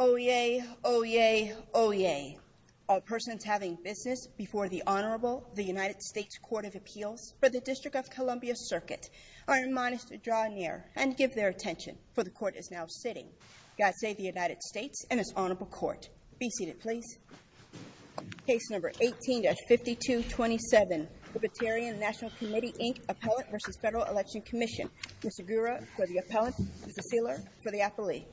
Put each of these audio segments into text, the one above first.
Oyez, oyez, oyez. A person is having business before the Honorable, the United States Court of Appeal for the District of Columbia Circuit. I reminisce to draw near and give their attention, for the Court is now sitting. God save the United States and its Honorable Court. Be seated, please. Case number 18-5227, Libertarian National Committee, Inc., Appellate v. Federal Election Commission. Mr. Gura for the appellant, Mr. Feeler for the appellee.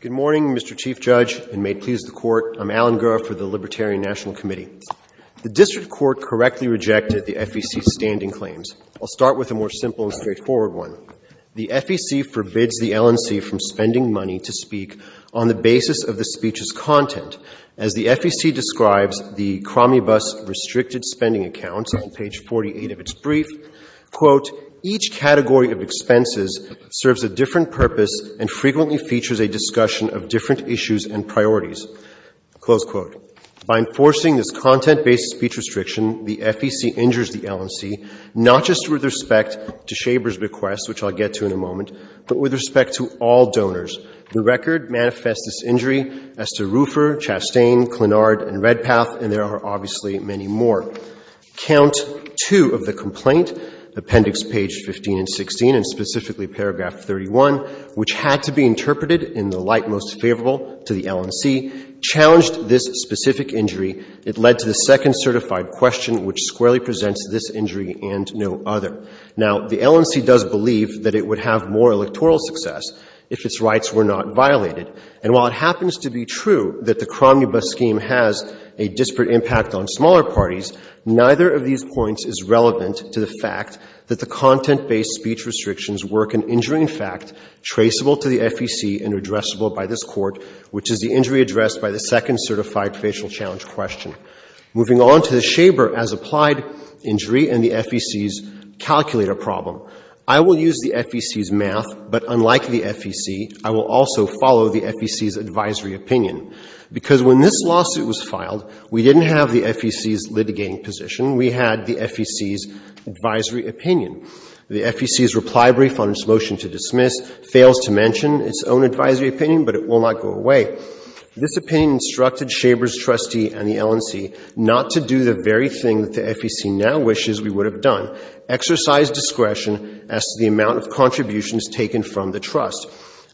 Good morning, Mr. Chief Judge, and may it please the Court, I'm Alan Gura for the Libertarian National Committee. The District Court correctly rejected the FEC's standing claims. I'll start with a more simple and straightforward one. The FEC forbids the LNC from spending money to speak on the basis of the speech's content. As the FEC describes the Cromney-Bus restricted spending account on page 48 of its brief, quote, each category of expenses serves a different purpose and frequently features a discussion of different issues and priorities. Close quote. By enforcing this content-based speech restriction, the FEC injures the LNC, not just with respect to Shaver's request, which I'll get to in a moment, but with respect to all donors. The record manifests this injury as to Ruffer, Chastain, Clenard, and Redpath, and there are obviously many more. Count two of the complaint, appendix page 15 and 16, and specifically paragraph 31, which had to be interpreted in the light most favorable to the LNC, challenged this specific injury. It led to the second certified question, which squarely presents this injury and no other. Now, the LNC does believe that it would have more electoral success if its rights were not violated. And while it happens to be true that the Cromney-Bus scheme has a disparate impact on smaller parties, neither of these points is relevant to the fact that the content-based speech restrictions work and injure, in fact, traceable to the FEC and addressable by this Court, which is the injury addressed by the second certified facial challenge question. Moving on to the Shaver as applied injury and the FEC's calculator problem, I will use the FEC's math, but unlike the FEC, I will also follow the FEC's advisory opinion. Because when this lawsuit was filed, we didn't have the FEC's litigating position. We had the FEC's advisory opinion. The FEC's reply brief on its motion to dismiss fails to mention its own advisory opinion, but it will not go away. This opinion instructed Shaver's trustee and the LNC not to do the very thing that the FEC now wishes we would have done, exercise discretion as to the amount of contributions taken from the trust.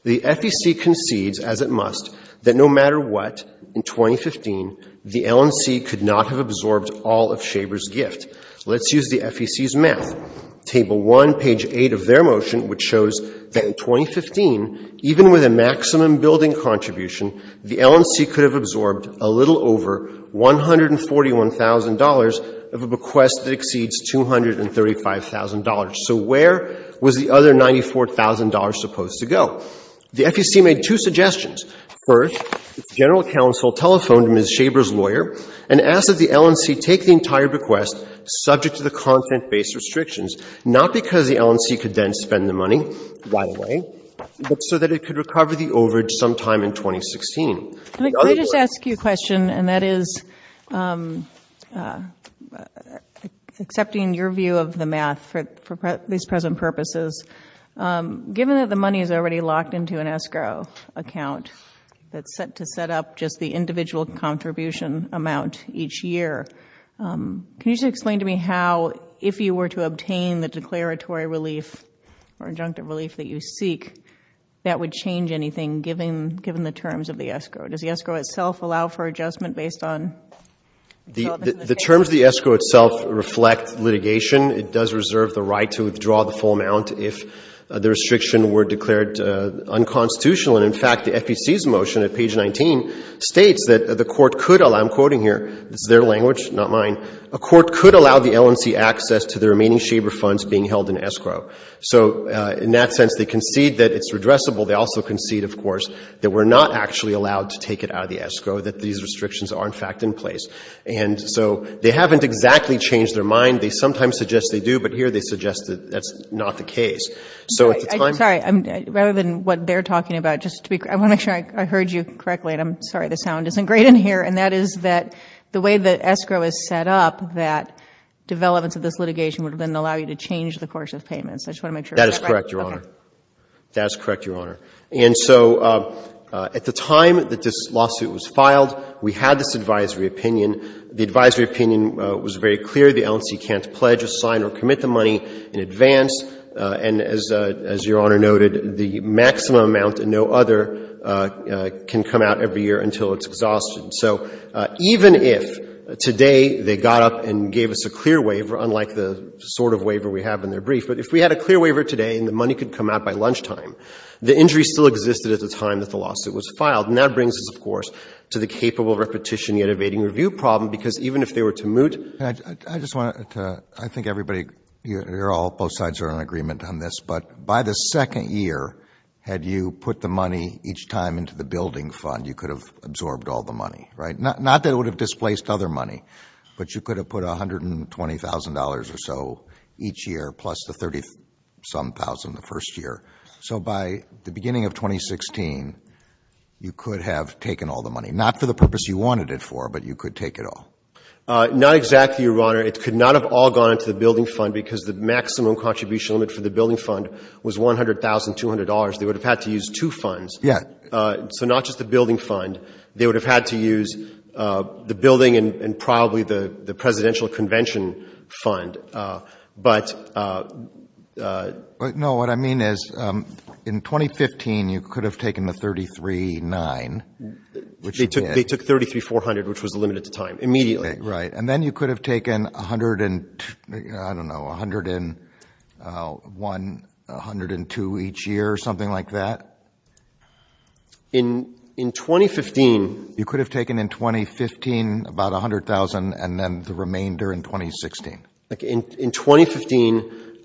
The FEC concedes, as it must, that no matter what, in 2015, the LNC could not have absorbed all of Shaver's gift. Let's use the FEC's math. Table 1, page 8 of their motion, which shows that in 2015, even with a maximum building contribution, the LNC could have absorbed a little over $141,000 of a bequest that exceeds $235,000. So where was the other $94,000 supposed to go? The FEC made two suggestions. First, the general counsel telephoned Ms. Shaver's lawyer and asked that the LNC take the entire bequest, subject to the content-based restrictions, not because the LNC could then spend the money right away, but so that it could recover the overage sometime in 2016. Let me just ask you a question, and that is, accepting your view of the math for these present purposes, given that the money is already locked into an escrow account that's set up just the individual contribution amount each year, can you just explain to me how, if you were to obtain the declaratory relief or injunctive relief that you seek, that would change anything, given the terms of the escrow? Does the escrow itself allow for adjustment based on? The terms of the escrow itself reflect litigation. It does reserve the right to withdraw the full amount if the restrictions were declared unconstitutional. In fact, the FEC's motion at page 19 states that the court could allow, I'm quoting here, their language, not mine, a court could allow the LNC access to the remaining Shaver funds being held in escrow. So in that sense, they concede that it's redressable. They also concede, of course, that we're not actually allowed to take it out of the escrow, that these restrictions are, in fact, in place. And so they haven't exactly changed their mind. They sometimes suggest they do, but here they suggest that that's not the case. Sorry, rather than what they're talking about, I want to make sure I heard you correctly, and I'm sorry the sound isn't great in here, and that is that the way that escrow is set up, that development of this litigation would then allow you to change the course of payments. I just want to make sure I got that right. That is correct, Your Honor. That is correct, Your Honor. And so at the time that this lawsuit was filed, we had this advisory opinion. The advisory opinion was very clear. The LNC can't pledge, assign, or commit the money in advance. And as Your Honor noted, the maximum amount and no other can come out every year until it's exhausted. So even if today they got up and gave us a clear waiver, unlike the sort of waiver we have in their brief, but if we had a clear waiver today and the money could come out by lunchtime, the injury still existed at the time that the lawsuit was filed, and that brings us, of course, to the capable repetition yet evading review problem, because even if they were to moot. I just want to, I think everybody, you're all, both sides are in agreement on this, but by the second year, had you put the money each time into the building fund, you could have absorbed all the money, right? Not that it would have displaced other money, but you could have put $120,000 or so each year plus the 30-some thousand the first year. So by the beginning of 2016, you could have taken all the money. Not for the purpose you wanted it for, but you could take it all. Not exactly, Your Honor. It could not have all gone to the building fund, because the maximum contribution limit for the building fund was $100,200. They would have had to use two funds. So not just the building fund. They would have had to use the building and probably the presidential convention fund. No, what I mean is in 2015, you could have taken the 33-9. They took 33-400, which was the limit at the time, immediately. Right. And then you could have taken, I don't know, $101,000, $102,000 each year or something like that? In 2015. You could have taken in 2015 about $100,000 and then the remainder in 2016. In 2015,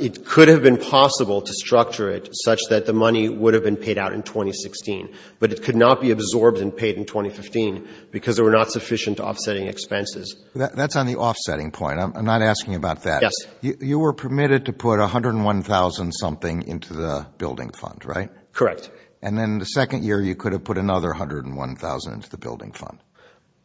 it could have been possible to structure it such that the money would have been paid out in 2016, but it could not be absorbed and paid in 2015 because there were not sufficient offsetting expenses. That's on the offsetting point. I'm not asking about that. Yes. You were permitted to put $101,000 something into the building fund, right? Correct. And then the second year, you could have put another $101,000 into the building fund.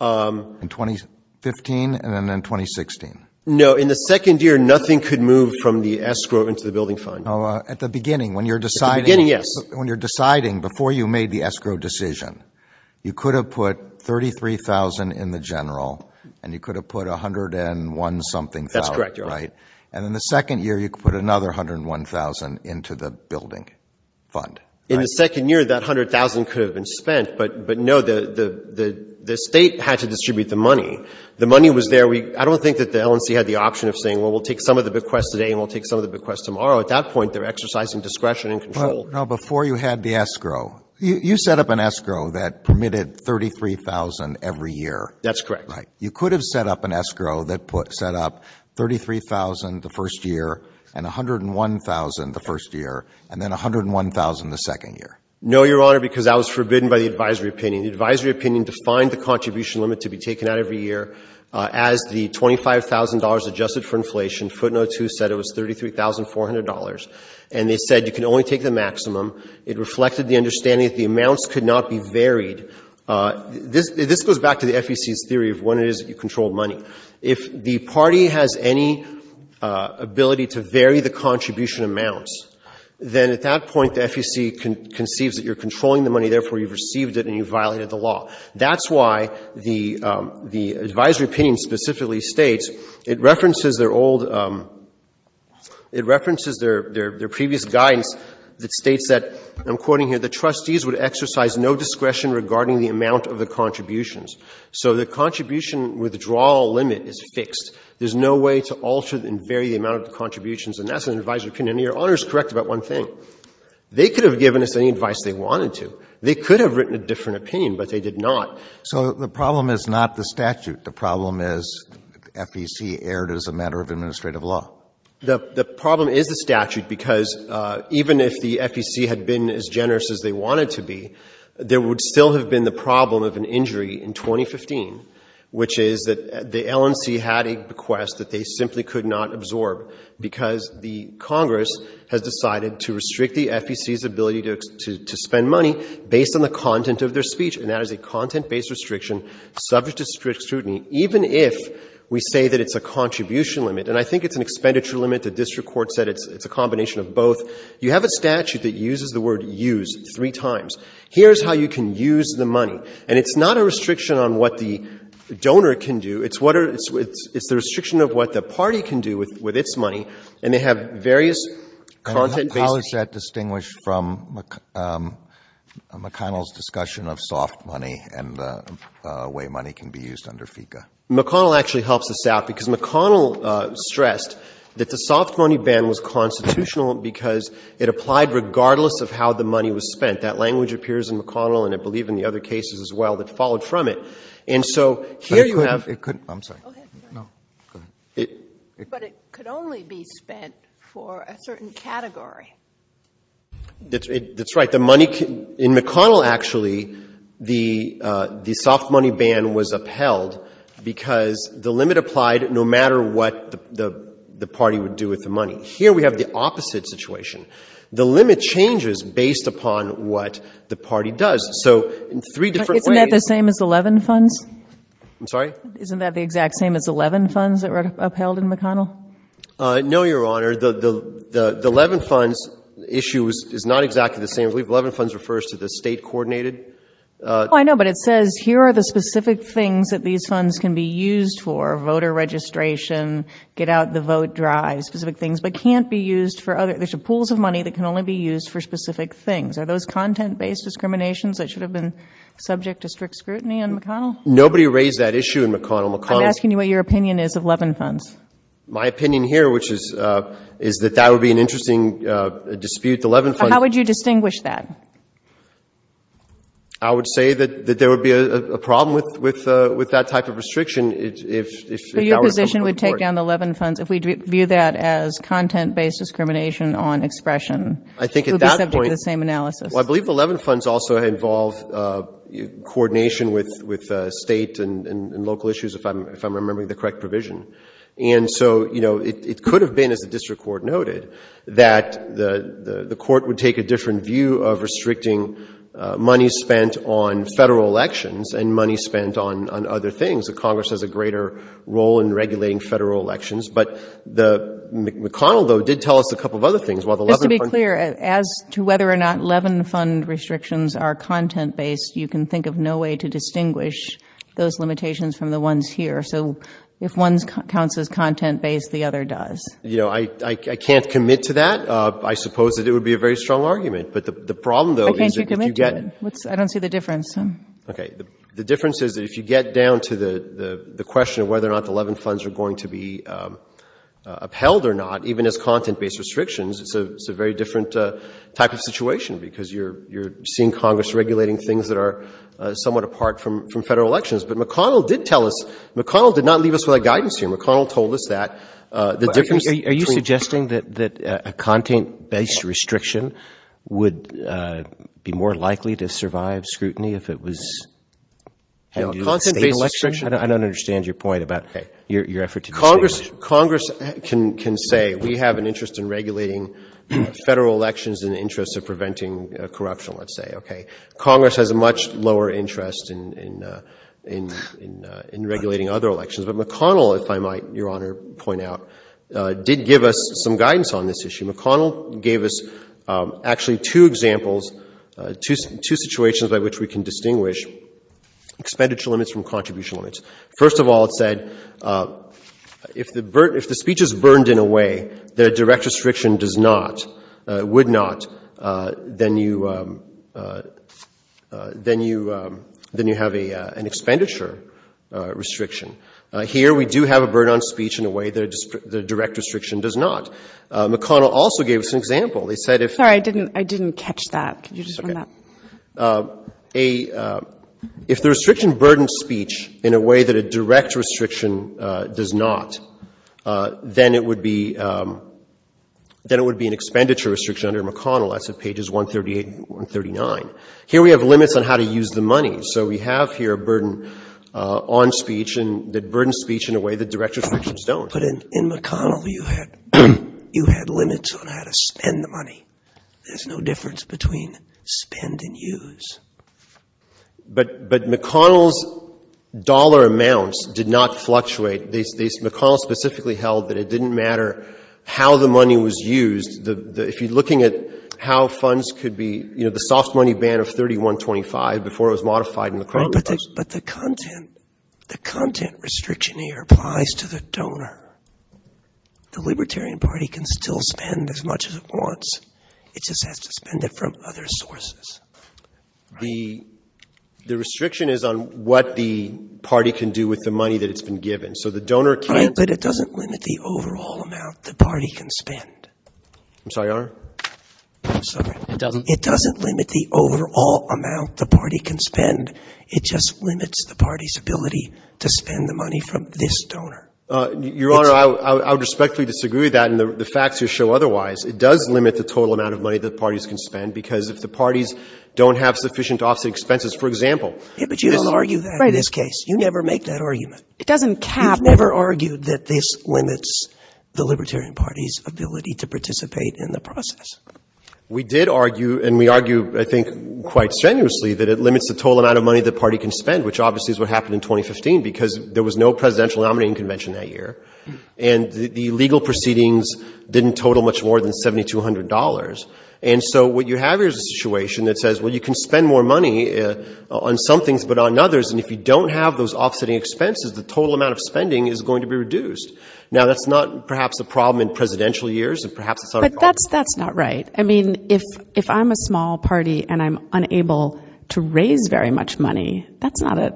In 2015 and then in 2016. No, in the second year, nothing could move from the escrow into the building fund. At the beginning, when you're deciding, before you made the escrow decision, you could have put $33,000 in the general and you could have put $101 something. That's correct. And in the second year, you could put another $101,000 into the building fund. In the second year, that $100,000 could have been spent, but no, the state had to distribute the money. The money was there. I don't think that the LNC had the option of saying, well, we'll take some of the bequest today and we'll take some of the bequest tomorrow. At that point, they're exercising discretion and control. Before you had the escrow, you set up an escrow that permitted $33,000 every year. That's correct. You could have set up an escrow that set up $33,000 the first year and $101,000 the first year and then $101,000 the second year. No, Your Honor, because that was forbidden by the advisory opinion. The advisory opinion defined the contribution limit to be taken out every year. As the $25,000 adjusted for inflation, footnote 2 said it was $33,400. They said you can only take the maximum. It reflected the understanding that the amounts could not be varied. This goes back to the FEC's theory of when it is that you control money. If the party has any ability to vary the contribution amounts, then at that point the FEC conceives that you're controlling the money, therefore you've received it and you've violated the law. That's why the advisory opinion specifically states, it references their previous guidance that states that, I'm quoting here, the trustees would exercise no discretion regarding the amount of the contributions. So the contribution withdrawal limit is fixed. There's no way to alter and vary the amount of the contributions and that's an advisory opinion. Your Honor is correct about one thing. They could have given us any advice they wanted to. They could have written a different opinion, but they did not. So the problem is not the statute. The problem is FEC erred as a matter of administrative law. The problem is the statute because even if the FEC had been as generous as they wanted to be, there would still have been the problem of an injury in 2015, which is that the LNC had a request that they simply could not absorb because the Congress had decided to restrict the FEC's ability to spend money based on the content of their speech. And that is a content-based restriction subject to scrutiny, even if we say that it's a contribution limit. And I think it's an expenditure limit. The district court said it's a combination of both. You have a statute that uses the word use three times. Here's how you can use the money. And it's not a restriction on what the donor can do. It's the restriction of what the party can do with its money, and they have various content-based... How is that distinguished from McConnell's discussion of soft money and the way money can be used under FECA? McConnell actually helps us out because McConnell stressed that the soft money ban was constitutional because it applied regardless of how the money was spent. That language appears in McConnell, and I believe in the other cases as well, that followed from it. But it could only be spent for a certain category. That's right. In McConnell, actually, the soft money ban was upheld because the limit applied no matter what the party would do with the money. Here we have the opposite situation. The limit changes based upon what the party does. Isn't that the same as the Levin funds? I'm sorry? Isn't that the exact same as the Levin funds that were upheld in McConnell? No, Your Honor. The Levin funds issue is not exactly the same. I believe Levin funds refers to the state-coordinated... I know, but it says here are the specific things that these funds can be used for, voter registration, get-out-the-vote drives, specific things that can't be used for other... There's pools of money that can only be used for specific things. Are those content-based discriminations that should have been subject to strict scrutiny in McConnell? Nobody raised that issue in McConnell. I'm asking you what your opinion is of Levin funds. My opinion here is that that would be an interesting dispute. How would you distinguish that? I would say that there would be a problem with that type of restriction. So your position would take down the Levin funds if we view that as content-based discrimination on expression? I think at that point... It would be subject to the same analysis. Well, I believe the Levin funds also involve coordination with state and local issues, if I'm remembering the correct provision. And so, you know, it could have been, as the district court noted, that the court would take a different view of restricting money spent on federal elections and money spent on other things. The Congress has a greater role in regulating federal elections, but the McConnell vote did tell us a couple of other things. Just to be clear, as to whether or not Levin fund restrictions are content-based, you can think of no way to distinguish those limitations from the ones here. So if one counts as content-based, the other does. You know, I can't commit to that. I suppose that it would be a very strong argument. But the problem, though... Why can't you commit to it? I don't see the difference. Okay, the difference is that if you get down to the question of whether or not the Levin funds are going to be upheld or not, even as content-based restrictions, it's a very different type of situation because you're seeing Congress regulating things that are somewhat apart from federal elections. But McConnell did tell us, McConnell did not leave us without guidance here. McConnell told us that... Are you suggesting that a content-based restriction would be more likely to survive scrutiny if it was... A content-based restriction? I don't understand your point about your effort to distinguish. Congress can say we have an interest in regulating federal elections in the interest of preventing corruption, let's say, okay? Congress has a much lower interest in regulating other elections. But McConnell, if I might, Your Honor, point out, did give us some guidance on this issue. McConnell gave us actually two examples, two situations at which we can distinguish expenditure limits from contribution limits. First of all, it said if the speech is burdened in a way that a direct restriction does not, would not, then you have an expenditure restriction. Here we do have a burden on speech in a way that a direct restriction does not. McConnell also gave us an example. Sorry, I didn't catch that. Could you just run that? If the restriction burdens speech in a way that a direct restriction does not, then it would be an expenditure restriction under McConnell. That's at pages 138 and 139. Here we have limits on how to use the money. So we have here a burden on speech and that burdens speech in a way that direct restrictions don't. But in McConnell, you had limits on how to spend the money. There's no difference between spend and use. But McConnell's dollar amounts did not fluctuate. McConnell specifically held that it didn't matter how the money was used. If you're looking at how funds could be, you know, the soft money ban of 3125 before it was modified in the Crowley Post. But the content restriction here applies to the donor. The Libertarian Party can still spend as much as it wants. It just has to spend it from other sources. The restriction is on what the party can do with the money that it's been given. But it doesn't limit the overall amount the party can spend. I'm sorry, Your Honor? It doesn't limit the overall amount the party can spend. It just limits the party's ability to spend the money from this donor. Your Honor, I would respectfully disagree with that. And the facts here show otherwise. It does limit the total amount of money that parties can spend because if the parties don't have sufficient offset expenses, for example. But you don't argue that in this case. You never make that argument. You've never argued that this limits the Libertarian Party's ability to participate in the process. We did argue, and we argue, I think, quite strenuously, that it limits the total amount of money the party can spend, which obviously is what happened in 2015, because there was no presidential nominating convention that year. And the legal proceedings didn't total much more than $7,200. And so what you have is a situation that says, well, you can spend more money on some things but on others, and if you don't have those offsetting expenses, the total amount of spending is going to be reduced. Now, that's not perhaps the problem in presidential years. But that's not right. I mean, if I'm a small party and I'm unable to raise very much money, that's not an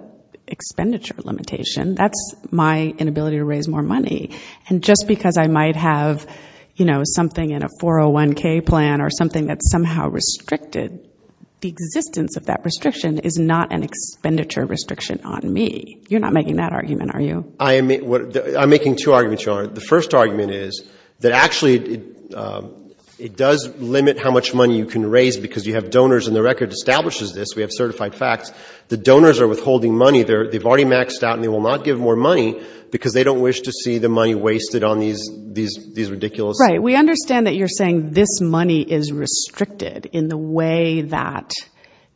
expenditure limitation. That's my inability to raise more money. And just because I might have, you know, something in a 401K plan or something that's somehow restricted, the existence of that restriction is not an expenditure restriction on me. You're not making that argument, are you? I'm making two arguments. The first argument is that actually it does limit how much money you can raise because you have donors, and the record establishes this. We have certified facts. The donors are withholding money. They've already maxed out and they will not give more money because they don't wish to see the money wasted on these ridiculous things. Right. We understand that you're saying this money is restricted in the way that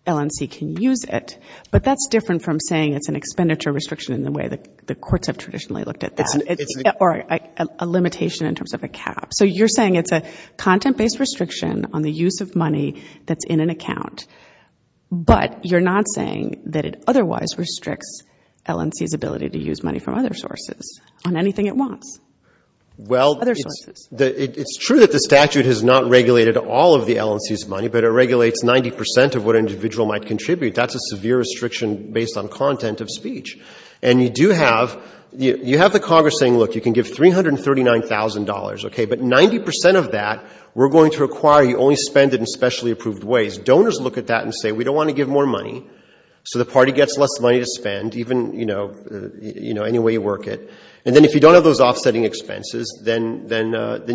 LNC can use it, but that's different from saying it's an expenditure restriction in the way the courts have traditionally looked at that. Or a limitation in terms of a cap. So you're saying it's a content-based restriction on the use of money that's in an account, but you're not saying that it otherwise restricts LNC's ability to use money from other sources on anything it wants. Well, it's true that the statute has not regulated all of the LNC's money, but it regulates 90% of what an individual might contribute. That's a severe restriction based on content of speech. And you have the Congress saying, look, you can give $339,000, but 90% of that we're going to require you only spend it in specially approved ways. Donors look at that and say, we don't want to give more money, so the party gets less money to spend any way you work it. And then if you don't have those offsetting expenses, then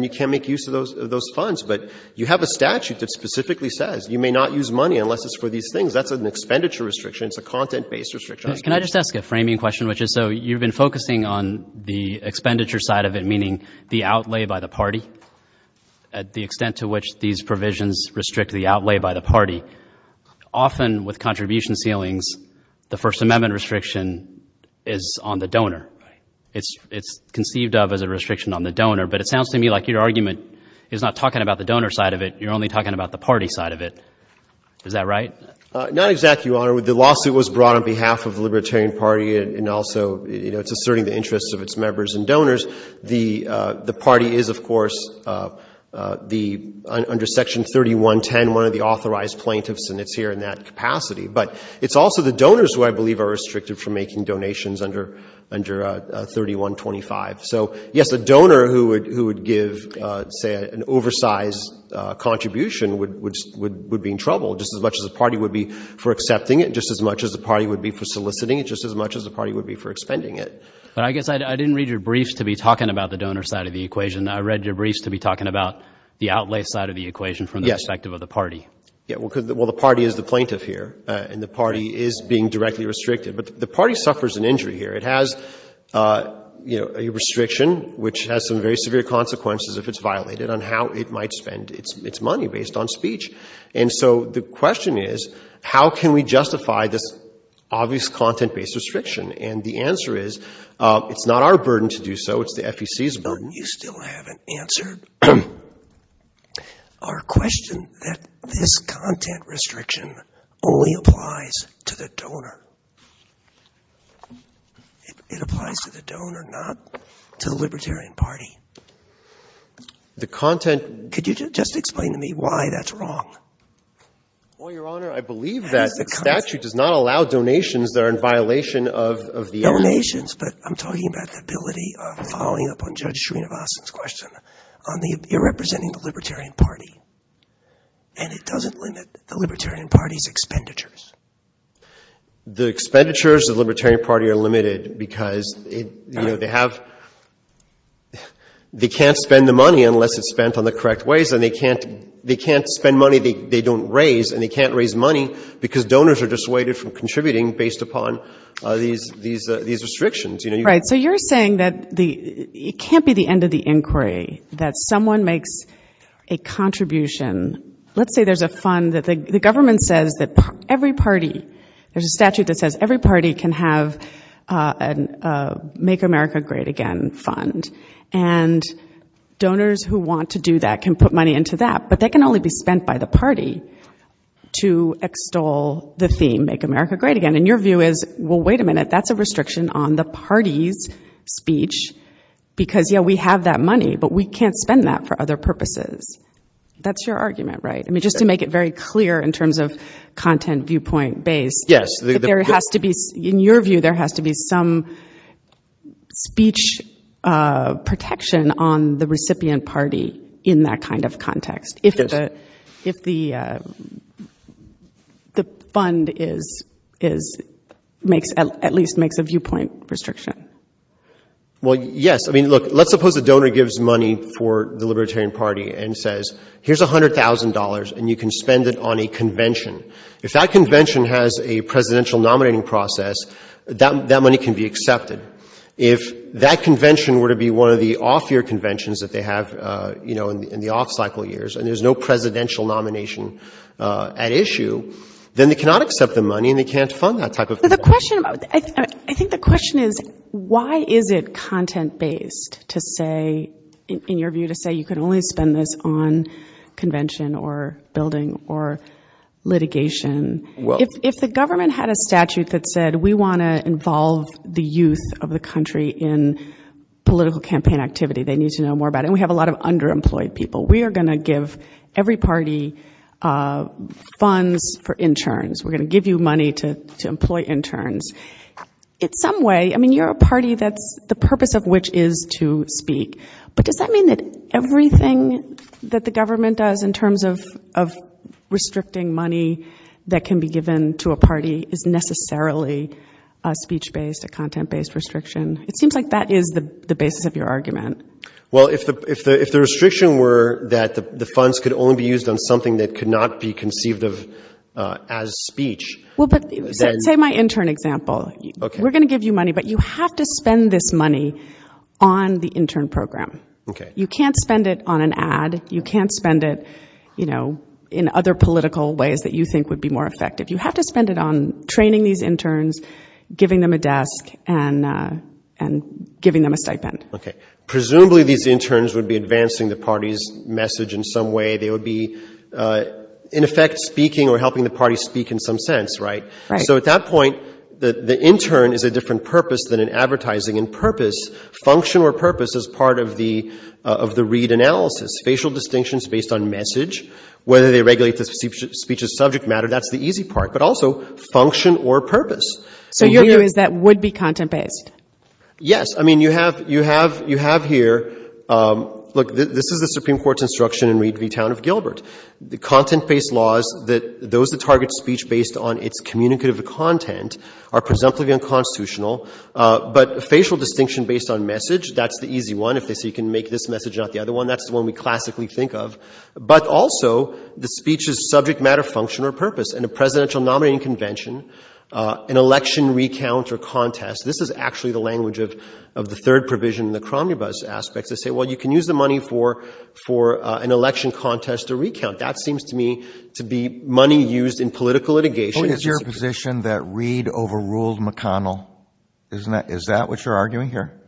you can't make use of those funds. But you have a statute that specifically says you may not use money unless it's for these things. That's an expenditure restriction. It's a content-based restriction. Can I just ask a framing question? So you've been focusing on the expenditure side of it, meaning the outlay by the party, at the extent to which these provisions restrict the outlay by the party. Often with contribution ceilings, the First Amendment restriction is on the donor. It's conceived of as a restriction on the donor, but it sounds to me like your argument is not talking about the donor side of it. You're only talking about the party side of it. Is that right? Not exactly, Your Honor. The lawsuit was brought on behalf of the Libertarian Party, and also it's asserting the interests of its members and donors. The party is, of course, under Section 3110, one of the authorized plaintiffs, and it's here in that capacity. But it's also the donors who I believe are restricted from making donations under 3125. So, yes, the donor who would give, say, an oversized contribution would be in trouble, just as much as the party would be for accepting it, just as much as the party would be for soliciting it, just as much as the party would be for expending it. I guess I didn't read your briefs to be talking about the donor side of the equation. I read your briefs to be talking about the outlay side of the equation from the perspective of the party. Well, the party is the plaintiff here, and the party is being directly restricted. But the party suffers an injury here. It has a restriction which has some very severe consequences if it's violated on how it might spend its money based on speech. And so the question is, how can we justify this obvious content-based restriction? And the answer is, it's not our burden to do so. It's the FEC's burden. You still haven't answered our question that this content restriction only applies to the donor. It applies to the donor, not to the Libertarian Party. Could you just explain to me why that's wrong? Well, Your Honor, I believe that the statute does not allow donations that are in violation of the… Donations, but I'm talking about the ability of following up on Judge Srinivasan's question. You're representing the Libertarian Party, and it doesn't limit the Libertarian Party's expenditures. The expenditures of the Libertarian Party are limited because they can't spend the money unless it's spent on the correct ways, and they can't spend money they don't raise, and they can't raise money because donors are dissuaded from contributing based upon these restrictions. Right, so you're saying that it can't be the end of the inquiry, that someone makes a contribution. Let's say there's a fund that the government says that every party, there's a statute that says every party can have a Make America Great Again fund, and donors who want to do that can put money into that, but that can only be spent by the party to extol the theme, Make America Great Again, and your view is, well, wait a minute, that's a restriction on the party's speech because, yeah, we have that money, but we can't spend that for other purposes. That's your argument, right? I mean, just to make it very clear in terms of content viewpoint-based, there has to be, in your view, there has to be some speech protection on the recipient party in that kind of context if the fund at least makes a viewpoint restriction. Well, yes. I mean, look, let's suppose a donor gives money for the Libertarian Party and says, here's $100,000 and you can spend it on a convention. If that convention has a presidential nominating process, that money can be accepted. If that convention were to be one of the off-year conventions that they have in the off-cycle years and there's no presidential nomination at issue, then they cannot accept the money and they can't fund that type of thing. I think the question is, why is it content-based to say, in your view, to say you can only spend this on convention or building or litigation? If the government had a statute that said, we want to involve the youth of the country in political campaign activity, they need to know more about it. We have a lot of underemployed people. We are going to give every party funds for interns. We're going to give you money to employ interns. In some way, I mean, you're a party that the purpose of which is to speak, but does that mean that everything that the government does in terms of restricting money that can be given to a party is necessarily speech-based or content-based restriction? It seems like that is the basis of your argument. Well, if the restriction were that the funds could only be used on something that could not be conceived of as speech. Say my intern example. We're going to give you money, but you have to spend this money on the intern program. You can't spend it on an ad. You can't spend it in other political ways that you think would be more effective. You have to spend it on training these interns, giving them a desk, and giving them a stipend. Okay. Presumably these interns would be advancing the party's message in some way. They would be, in effect, speaking or helping the party speak in some sense, right? So at that point, the intern is a different purpose than an advertising and purpose. Function or purpose is part of the read analysis. Facial distinction is based on message. Whether they regulate the speech as subject matter, that's the easy part, but also function or purpose. So your view is that would be content-based? Yes. I mean, you have here, look, this is the Supreme Court's instruction in the town of Gilbert. The content-based laws, those that target speech based on its communicative content are presumably unconstitutional, but facial distinction based on message, that's the easy one. If they say you can make this message, not the other one, that's the one we classically think of. But also the speech's subject matter, function, or purpose. In a presidential nominating convention, an election recount or contest, this is actually the language of the third provision in the Cronenberg's aspect. They say, well, you can use the money for an election contest or recount. That seems to me to be money used in political litigation. Isn't it your position that Reed overruled McConnell? Isn't that, is that what you're arguing here?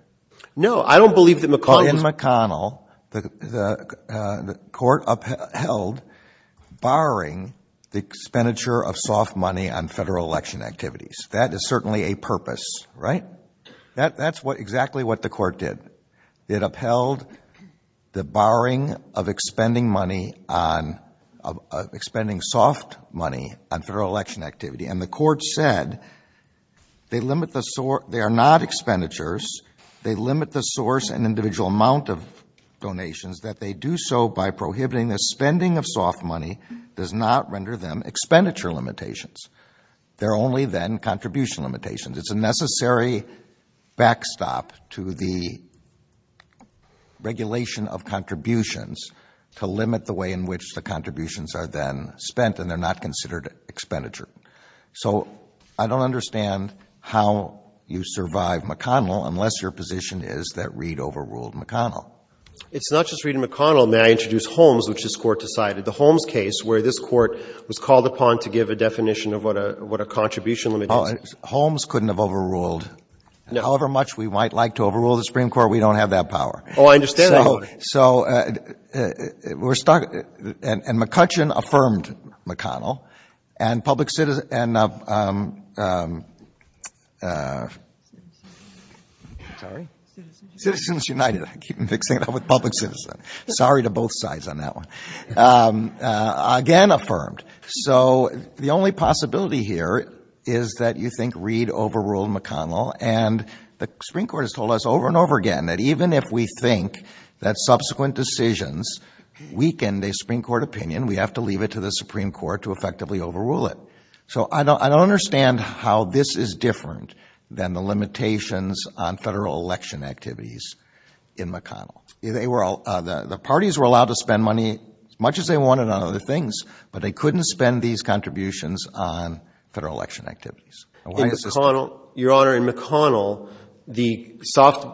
No, I don't believe that McConnell. In McConnell, the court upheld barring the expenditure of soft money on federal election activities. That is certainly a purpose, right? That's exactly what the court did. It upheld the barring of expending money on, of expending soft money on federal election activity. And the court said they limit the, they are not expenditures, they limit the source and individual amount of donations, that they do so by prohibiting the spending of soft money does not render them expenditure limitations. They're only then contribution limitations. It's a necessary backstop to the regulation of contributions to limit the way in which the contributions are then spent and they're not considered expenditure. So I don't understand how you survive McConnell unless your position is that Reed overruled McConnell. It's not just Reed and McConnell. May I introduce Holmes, which this court decided. The Holmes case where this court was called upon to give a definition of what a contribution limit is. Holmes couldn't have overruled. However much we might like to overrule the Supreme Court, we don't have that power. Oh, I understand that. So we're stuck, and McCutcheon affirmed McConnell and public citizen, and citizens united. I keep mixing it up with public citizen. Sorry to both sides on that one. Again affirmed. So the only possibility here is that you think Reed overruled McConnell, and the Supreme Court has told us over and over again that even if we think that subsequent decisions weaken the Supreme Court opinion, we have to leave it to the Supreme Court to effectively overrule it. So I don't understand how this is different than the limitations on federal election activities in McConnell. The parties were allowed to spend money as much as they wanted on other things, but they couldn't spend these contributions on federal election activities. Your Honor, in McConnell, the soft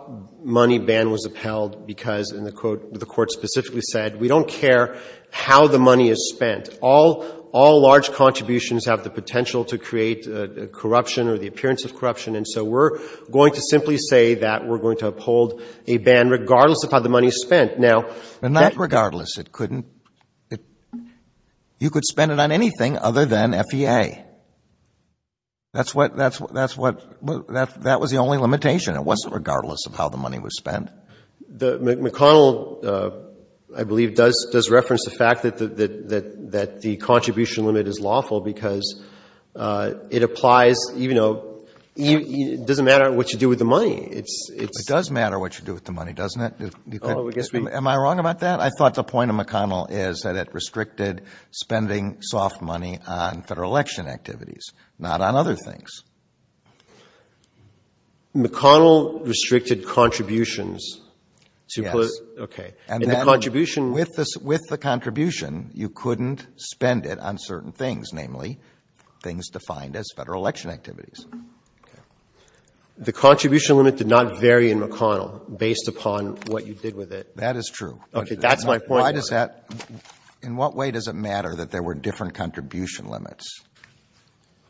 money ban was upheld because the court specifically said, we don't care how the money is spent. All large contributions have the potential to create corruption or the appearance of corruption, and so we're going to simply say that we're going to uphold a ban regardless of how the money is spent. And that regardless, you could spend it on anything other than FEA. That was the only limitation. It wasn't regardless of how the money was spent. McConnell, I believe, does reference the fact that the contribution limit is lawful because it applies, you know, it doesn't matter what you do with the money. It does matter what you do with the money, doesn't it? Am I wrong about that? I thought the point of McConnell is that it restricted spending soft money on federal election activities, not on other things. McConnell restricted contributions. Yes. Okay. With the contribution, you couldn't spend it on certain things, namely, things defined as federal election activities. The contribution limit did not vary in McConnell based upon what you did with it. That is true. Okay, that's my point. In what way does it matter that there were different contribution limits?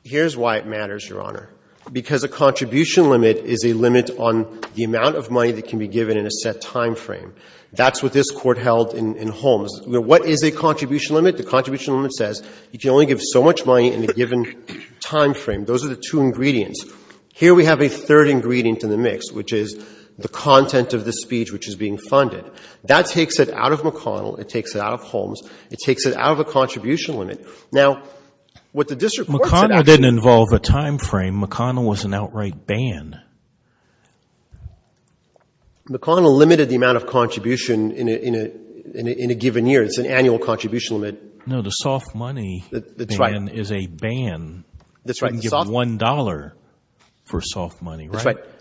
Here's why it matters, Your Honor. Because a contribution limit is a limit on the amount of money that can be given in a set time frame. That's what this Court held in Holmes. What is a contribution limit? The contribution limit says you can only give so much money in a given time frame. Those are the two ingredients. Here we have a third ingredient in the mix, which is the content of the speech which is being funded. That takes it out of McConnell. It takes it out of Holmes. It takes it out of a contribution limit. McConnell didn't involve a time frame. McConnell was an outright ban. McConnell limited the amount of contribution in a given year. It's an annual contribution limit. No, the soft money ban is a ban. That's right. You can give $1 for soft money.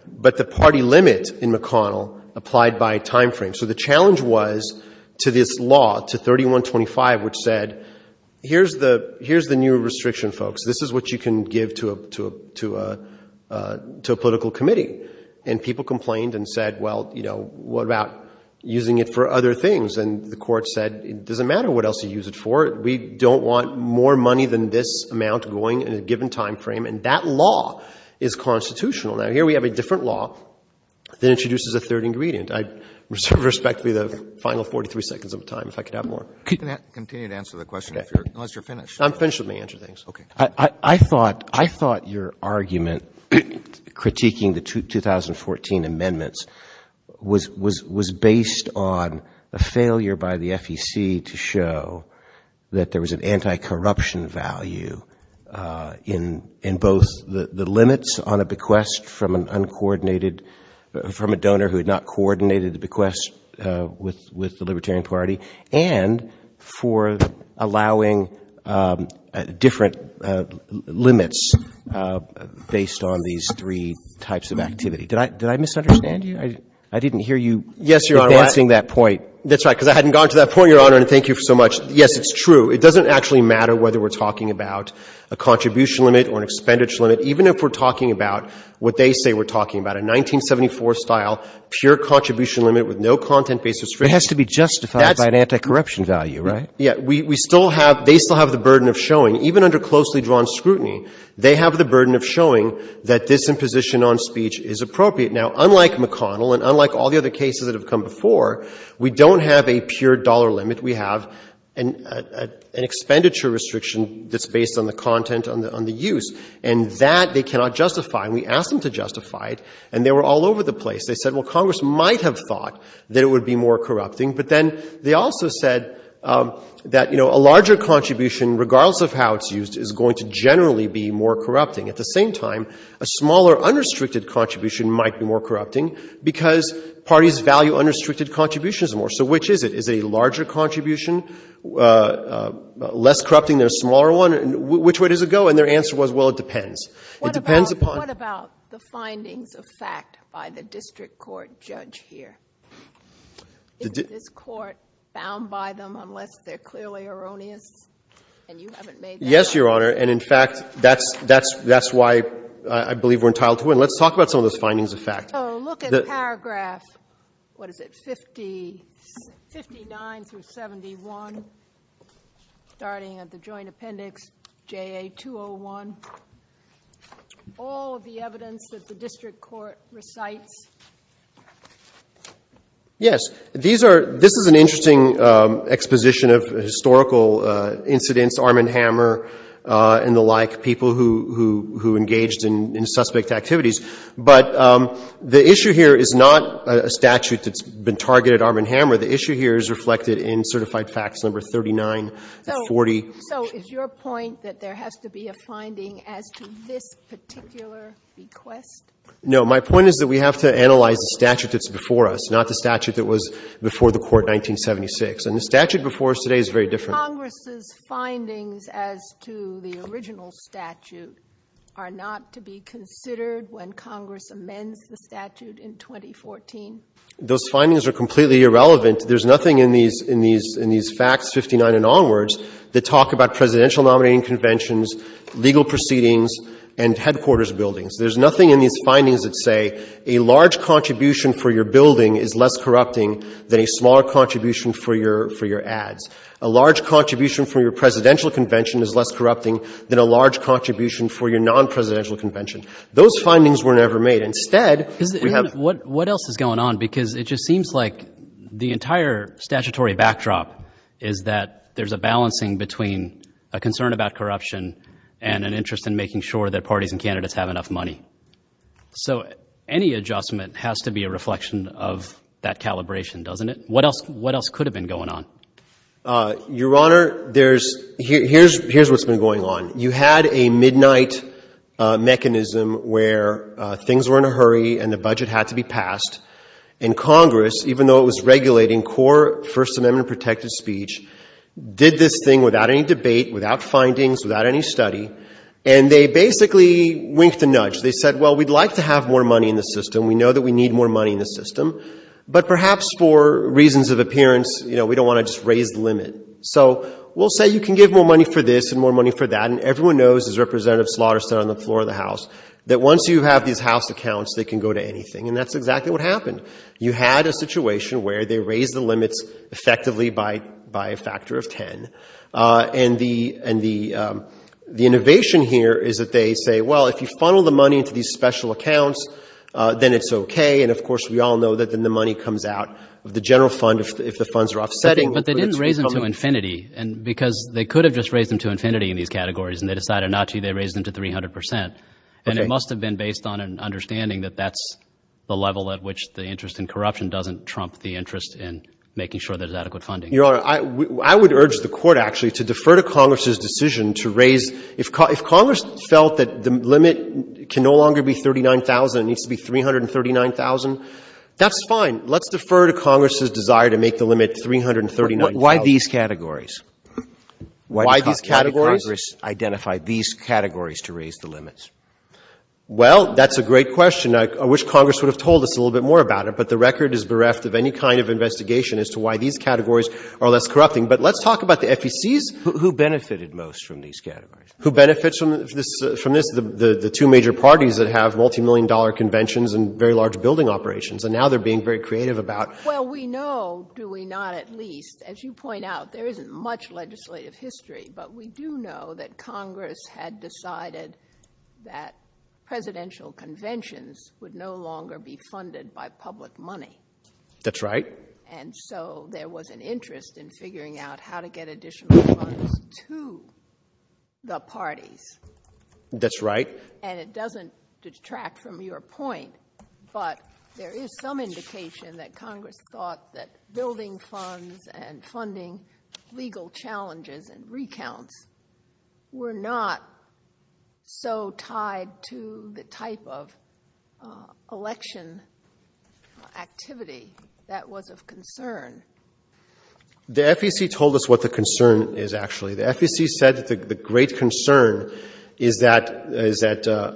But the party limit in McConnell applied by time frame. So the challenge was to this law, to 3125, which said, here's the new restriction, folks. This is what you can give to a political committee. And people complained and said, well, you know, what about using it for other things? And the Court said, it doesn't matter what else you use it for. We don't want more money than this amount going in a given time frame. And that law is constitutional. Now, here we have a different law that introduces a third ingredient. I reserve respectfully the final 43 seconds of time, if I could have more. Continue to answer the question, unless you're finished. I'm finished with my answer things. I thought your argument critiquing the 2014 amendments was based on a failure by the FEC to show that there was an anti-corruption value in both the limits on a bequest from an uncoordinated, from a donor who had not coordinated the bequest with the Libertarian Party and for allowing different limits based on these three types of activity. Did I misunderstand you? I didn't hear you addressing that point. That's right, because I hadn't gone to that point, Your Honor, and thank you so much. Yes, it's true. It doesn't actually matter whether we're talking about a contribution limit or an expenditure limit, even if we're talking about what they say we're talking about, a 1974-style pure contribution limit with no content-based description. It has to be justified by an anti-corruption value, right? Yes, we still have, they still have the burden of showing, even under closely drawn scrutiny, they have the burden of showing that this imposition on speech is appropriate. Now, unlike McConnell and unlike all the other cases that have come before, we don't have a pure dollar limit. We have an expenditure restriction that's based on the content, on the use, and that they cannot justify. And we asked them to justify it, and they were all over the place. They said, well, Congress might have thought that it would be more corrupting, but then they also said that, you know, a larger contribution, regardless of how it's used, is going to generally be more corrupting. At the same time, a smaller unrestricted contribution might be more corrupting because parties value unrestricted contributions more. So which is it? Is it a larger contribution, less corrupting than a smaller one? Which way does it go? And their answer was, well, it depends. It depends upon – What about the findings of fact by the district court judge here? Is this court bound by them unless they're clearly erroneous? And you haven't made that – Yes, Your Honor, and in fact, that's why I believe we're entitled to it. Let's talk about some of those findings of fact. So look at paragraph, what is it, 59-71, starting at the joint appendix, JA-201, all of the evidence that the district court recites. Yes, this is an interesting exposition of historical incidents, Armand Hammer and the like, people who engaged in suspect activities. But the issue here is not a statute that's been targeted at Armand Hammer. The issue here is reflected in certified facts number 3940. So is your point that there has to be a finding as to this particular request? No, my point is that we have to analyze the statute that's before us, not the statute that was before the court in 1976. And the statute before us today is very different. Congress's findings as to the original statute are not to be considered when Congress amends the statute in 2014? Those findings are completely irrelevant. There's nothing in these facts, 59 and onwards, that talk about presidential nominating conventions, legal proceedings, and headquarters buildings. There's nothing in these findings that say a large contribution for your building is less corrupting than a small contribution for your ads. A large contribution for your presidential convention is less corrupting than a large contribution for your non-presidential convention. Those findings were never made. What else is going on? Because it just seems like the entire statutory backdrop is that there's a balancing between a concern about corruption and an interest in making sure that parties and candidates have enough money. So any adjustment has to be a reflection of that calibration, doesn't it? What else could have been going on? Your Honor, here's what's been going on. You had a midnight mechanism where things were in a hurry and the budget had to be passed. And Congress, even though it was regulating core First Amendment protected speech, did this thing without any debate, without findings, without any study. And they basically winked a nudge. They said, well, we'd like to have more money in the system. We know that we need more money in the system. But perhaps for reasons of appearance, we don't want to just raise the limit. So we'll say you can give more money for this and more money for that. And everyone knows, as Representative Slaughter said on the floor of the House, that once you have these House accounts, they can go to anything. And that's exactly what happened. You had a situation where they raised the limits effectively by a factor of 10. And the innovation here is that they say, well, if you funnel the money into these special accounts, then it's okay. And, of course, we all know that then the money comes out of the general fund if the funds are offsetting. But they didn't raise them to infinity because they could have just raised them to infinity in these categories. And they decided not to. They raised them to 300 percent. And it must have been based on an understanding that that's the level at which the interest in corruption doesn't trump the interest in making sure there's adequate funding. Your Honor, I would urge the Court, actually, to defer to Congress's decision to raise. If Congress felt that the limit can no longer be $39,000, it needs to be $339,000, that's fine. Let's defer to Congress's desire to make the limit $339,000. Why these categories? Why these categories? Why did Congress identify these categories to raise the limits? Well, that's a great question. I wish Congress would have told us a little bit more about it. But the record is bereft of any kind of investigation as to why these categories are less corrupting. But let's talk about the FECs. Who benefited most from these categories? Who benefits from this? The two major parties that have multimillion-dollar conventions and very large building operations. And now they're being very creative about it. Well, we know, do we not, at least, as you point out, there isn't much legislative history. But we do know that Congress had decided that presidential conventions would no longer be funded by public money. That's right. And so there was an interest in figuring out how to get additional money to the parties. That's right. And it doesn't detract from your point, but there is some indication that Congress thought that building funds and funding legal challenges and recounts were not so tied to the type of election activity that was of concern. The FEC told us what the concern is, actually. The FEC said the great concern is that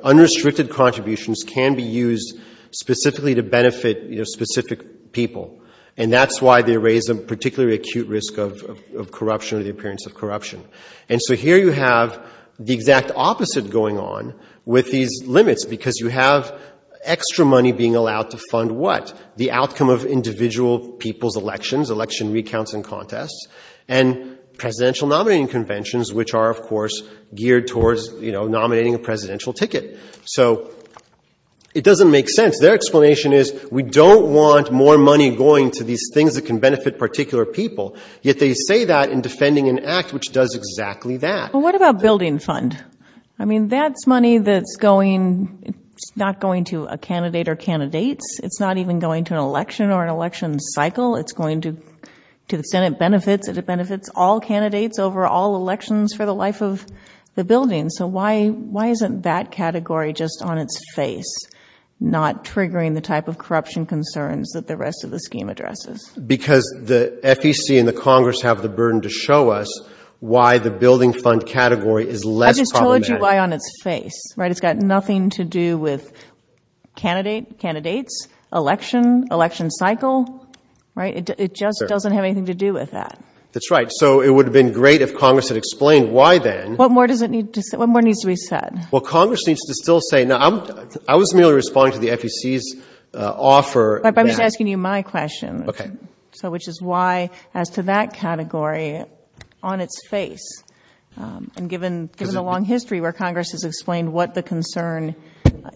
unrestricted contributions can be used specifically to benefit specific people. And that's why they raise a particularly acute risk of corruption or the appearance of corruption. And so here you have the exact opposite going on with these limits, because you have extra money being allowed to fund what? The outcome of individual people's elections, election recounts and contests, and presidential nominating conventions, which are, of course, geared towards nominating a presidential ticket. So it doesn't make sense. Their explanation is we don't want more money going to these things that can benefit particular people, yet they say that in defending an act which does exactly that. Well, what about building funds? I mean, that's money that's not going to a candidate or candidates. It's not even going to an election or an election cycle. It's going to benefit all candidates over all elections for the life of the building. So why isn't that category just on its face, not triggering the type of corruption concerns that the rest of the scheme addresses? Because the FEC and the Congress have the burden to show us why the building fund category is less problematic. I just told you why on its face. It's got nothing to do with candidates, election, election cycle. It just doesn't have anything to do with that. That's right. So it would have been great if Congress had explained why then. What more needs to be said? Well, Congress needs to still say. Now, I was merely responding to the FEC's offer. But I'm just asking you my question, which is why as to that category on its face. And given the long history where Congress has explained what the concern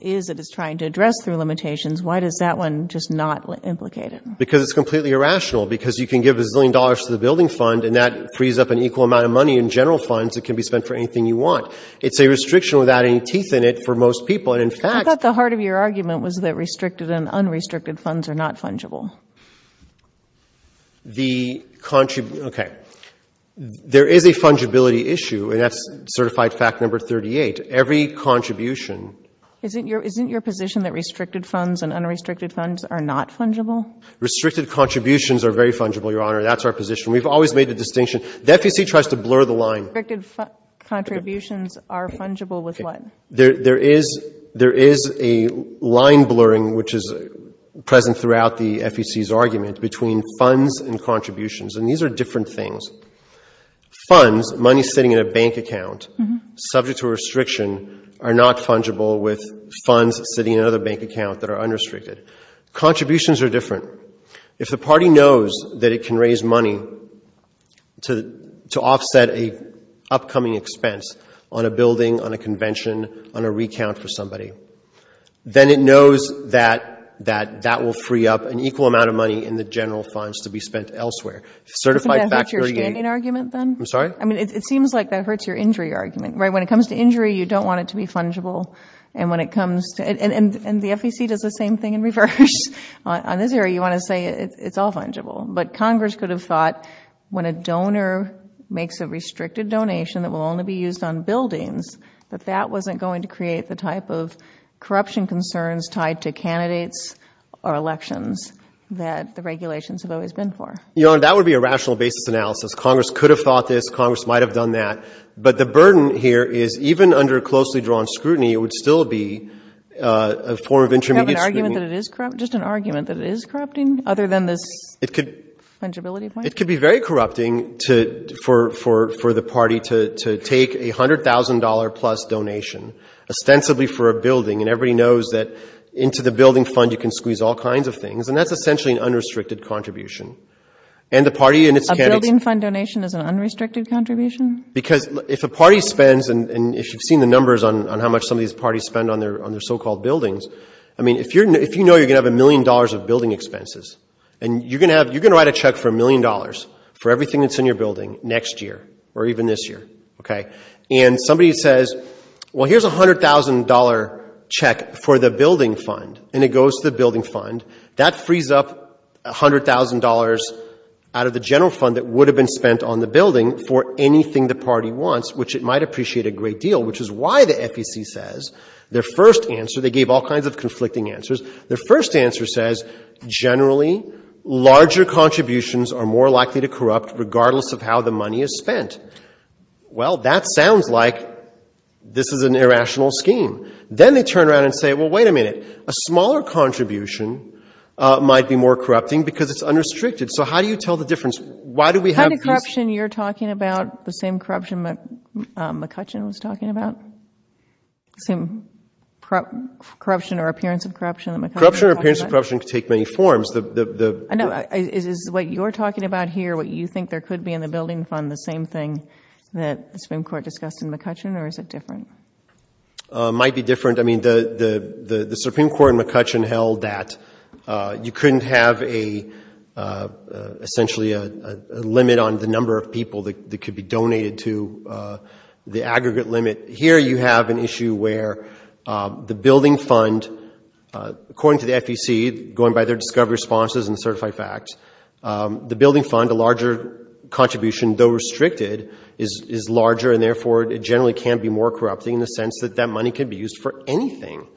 is that it's trying to address through limitations, why does that one just not implicate it? Because it's completely irrational because you can give a billion dollars to the building fund and that frees up an equal amount of money in general funds that can be spent for anything you want. It's a restriction without any teeth in it for most people. I thought the heart of your argument was that restricted and unrestricted funds are not fungible. Okay. There is a fungibility issue. That's certified fact number 38. Every contribution. Isn't your position that restricted funds and unrestricted funds are not fungible? Restricted contributions are very fungible, Your Honor. That's our position. We've always made the distinction. The FEC tries to blur the line. Restricted contributions are fungible with what? There is a line blurring which is present throughout the FEC's argument between funds and contributions, and these are different things. Funds, money sitting in a bank account, subject to restriction, are not fungible with funds sitting in another bank account that are unrestricted. Contributions are different. If the party knows that it can raise money to offset an upcoming expense on a building, on a convention, on a recount for somebody, then it knows that that will free up an equal amount of money in the general funds to be spent elsewhere. It seems like that hurts your injury argument. When it comes to injury, you don't want it to be fungible, and the FEC does the same thing in reverse. On this area, you want to say it's all fungible, but Congress could have thought when a donor makes a restricted donation that will only be used on buildings, that that wasn't going to create the type of corruption concerns tied to candidates or elections that the regulations have always been for. That would be a rational basic analysis. Congress could have thought this. Congress might have done that, but the burden here is even under closely drawn scrutiny, it would still be a form of intermediate scrutiny. Just an argument that it is corrupting? Other than this fungibility point? It could be very corrupting for the party to take a $100,000 plus donation, ostensibly for a building, and everybody knows that into the building fund you can squeeze all kinds of things, and that's essentially an unrestricted contribution. A building fund donation is an unrestricted contribution? Because if a party spends, and you've seen the numbers on how much some of these parties spend on their so-called buildings, if you know you're going to have a million dollars of building expenses, and you're going to write a check for a million dollars for everything that's in your building next year, or even this year, and somebody says, well, here's a $100,000 check for the building fund, and it goes to the building fund, that frees up $100,000 out of the general fund that would have been spent on the building for anything the party wants, which it might appreciate a great deal, which is why the FEC says, their first answer, they gave all kinds of conflicting answers, their first answer says, generally, larger contributions are more likely to corrupt, regardless of how the money is spent. Well, that sounds like this is an irrational scheme. Then they turn around and say, well, wait a minute, a smaller contribution might be more corrupting because it's unrestricted. So how do you tell the difference? Aren't the corruption you're talking about the same corruption McCutcheon was talking about? The same corruption or appearance of corruption that McCutcheon was talking about? Corruption or appearance of corruption can take many forms. No, it is what you're talking about here, what you think there could be in the building fund, the same thing that the Supreme Court discussed in McCutcheon, or is it different? It might be different. The Supreme Court in McCutcheon held that you couldn't have essentially a limit on the number of people that could be donated to the aggregate limit. Here you have an issue where the building fund, according to the FEC, going by their discovery responses and certified facts, the building fund, the larger contribution, though restricted, is larger, and therefore it generally can be more corrupting in the sense that that money can be used for anything.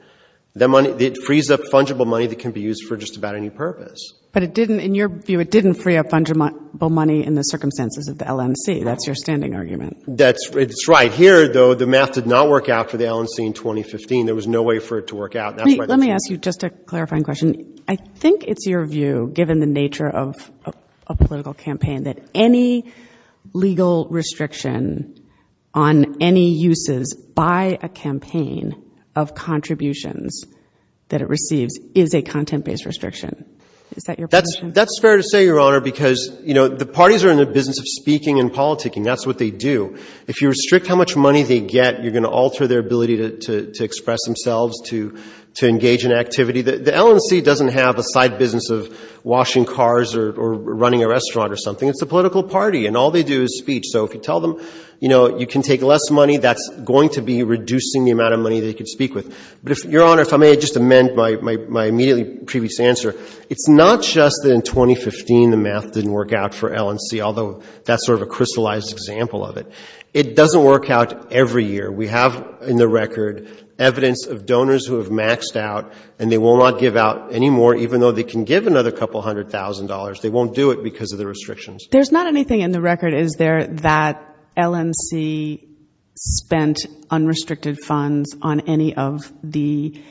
It frees up fungible money that can be used for just about any purpose. But in your view it didn't free up fungible money in the circumstances of the LNC. That's your standing argument. That's right. Here, though, the math did not work out for the LNC in 2015. There was no way for it to work out. Let me ask you just a clarifying question. I think it's your view, given the nature of a political campaign, that any legal restriction on any uses by a campaign of contributions that it received is a content-based restriction. Is that your position? That's fair to say, Your Honor, because the parties are in the business of speaking and politicking. That's what they do. If you restrict how much money they get, you're going to alter their ability to express themselves, to engage in activity. The LNC doesn't have a side business of washing cars or running a restaurant or something. It's a political party, and all they do is speech. So if you tell them you can take less money, that's going to be reducing the amount of money they can speak with. But, Your Honor, if I may just amend my immediately previous answer, it's not just that in 2015 the math didn't work out for LNC, although that's sort of a crystallized example of it. It doesn't work out every year. We have in the record evidence of donors who have maxed out, and they will not give out any more, even though they can give another couple hundred thousand dollars. They won't do it because of the restrictions. There's not anything in the record, is there, that LNC spent unrestricted funds on any of the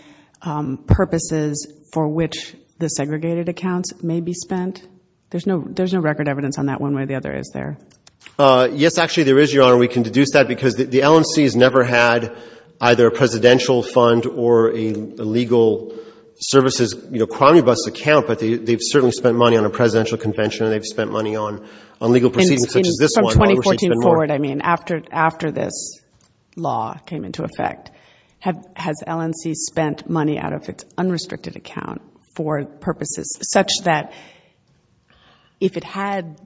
purposes for which the segregated accounts may be spent? There's no record evidence on that one way or the other, is there? Yes, actually there is, Your Honor. We can deduce that because the LNC has never had either a presidential fund or a legal services, you know, crony bus account, but they've certainly spent money on a presidential convention, and they've spent money on legal proceedings such as this one. From 2014 forward, I mean, after this law came into effect, has LNC spent money out of an unrestricted account for purposes such that if it had...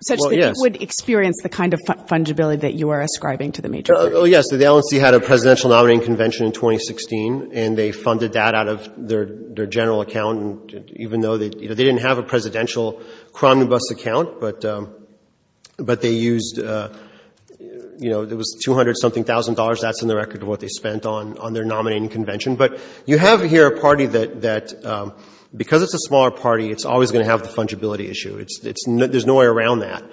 ...such that it would experience the kind of fungibility that you are ascribing to the major parties? Yes, the LNC had a presidential nominating convention in 2016, and they funded that out of their general account, even though they didn't have a presidential crony bus account, but they used, you know, it was 200-something thousand dollars. That's in the record of what they spent on their nominating convention. But you have here a party that, because it's a smaller party, it's always going to have the fungibility issue. There's no way around that.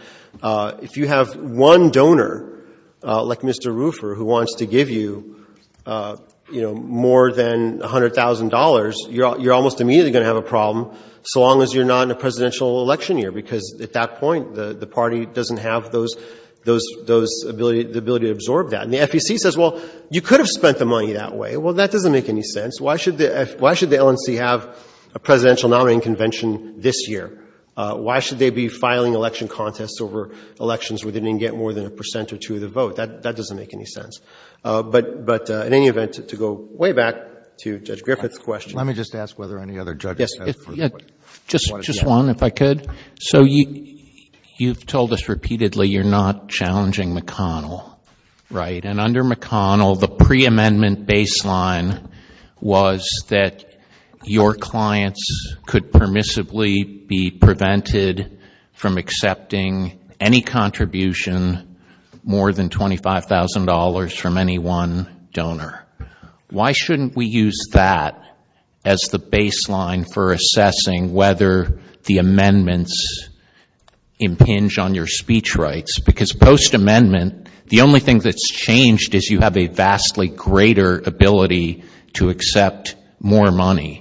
If you have one donor, like Mr. Rufer, who wants to give you, you know, more than $100,000, you're almost immediately going to have a problem, so long as you're not in the presidential election year, because at that point, the party doesn't have the ability to absorb that. And the FEC says, well, you could have spent the money that way. Well, that doesn't make any sense. Why should the LNC have a presidential nominating convention this year? Why should they be filing election contests over elections where they didn't get more than a percent or two of the vote? That doesn't make any sense. But in any event, to go way back to Judge Griffith's question. Let me just ask whether any other judges have questions. Just one, if I could. So you've told us repeatedly you're not challenging McConnell, right? And under McConnell, the pre-amendment baseline was that your clients could permissibly be prevented from accepting any contribution more than $25,000 from any one donor. Why shouldn't we use that as the baseline for assessing whether the amendments impinge on your speech rights? Because post-amendment, the only thing that's changed is you have a vastly greater ability to accept more money.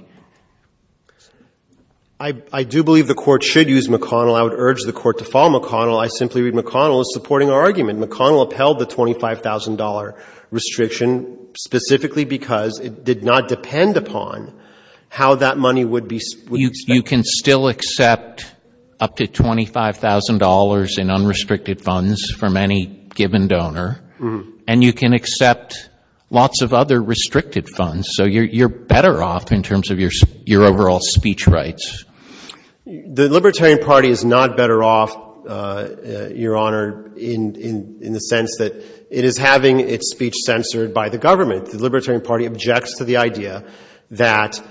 I do believe the court should use McConnell. I would urge the court to follow McConnell. I simply read McConnell as supporting our argument. McConnell upheld the $25,000 restriction specifically because it did not depend upon how that money would be spent. You can still accept up to $25,000 in unrestricted funds from any given donor. And you can accept lots of other restricted funds. So you're better off in terms of your overall speech rights. The Libertarian Party is not better off, Your Honor, in the sense that it is having its speech censored by the government. The Libertarian Party objects to the idea that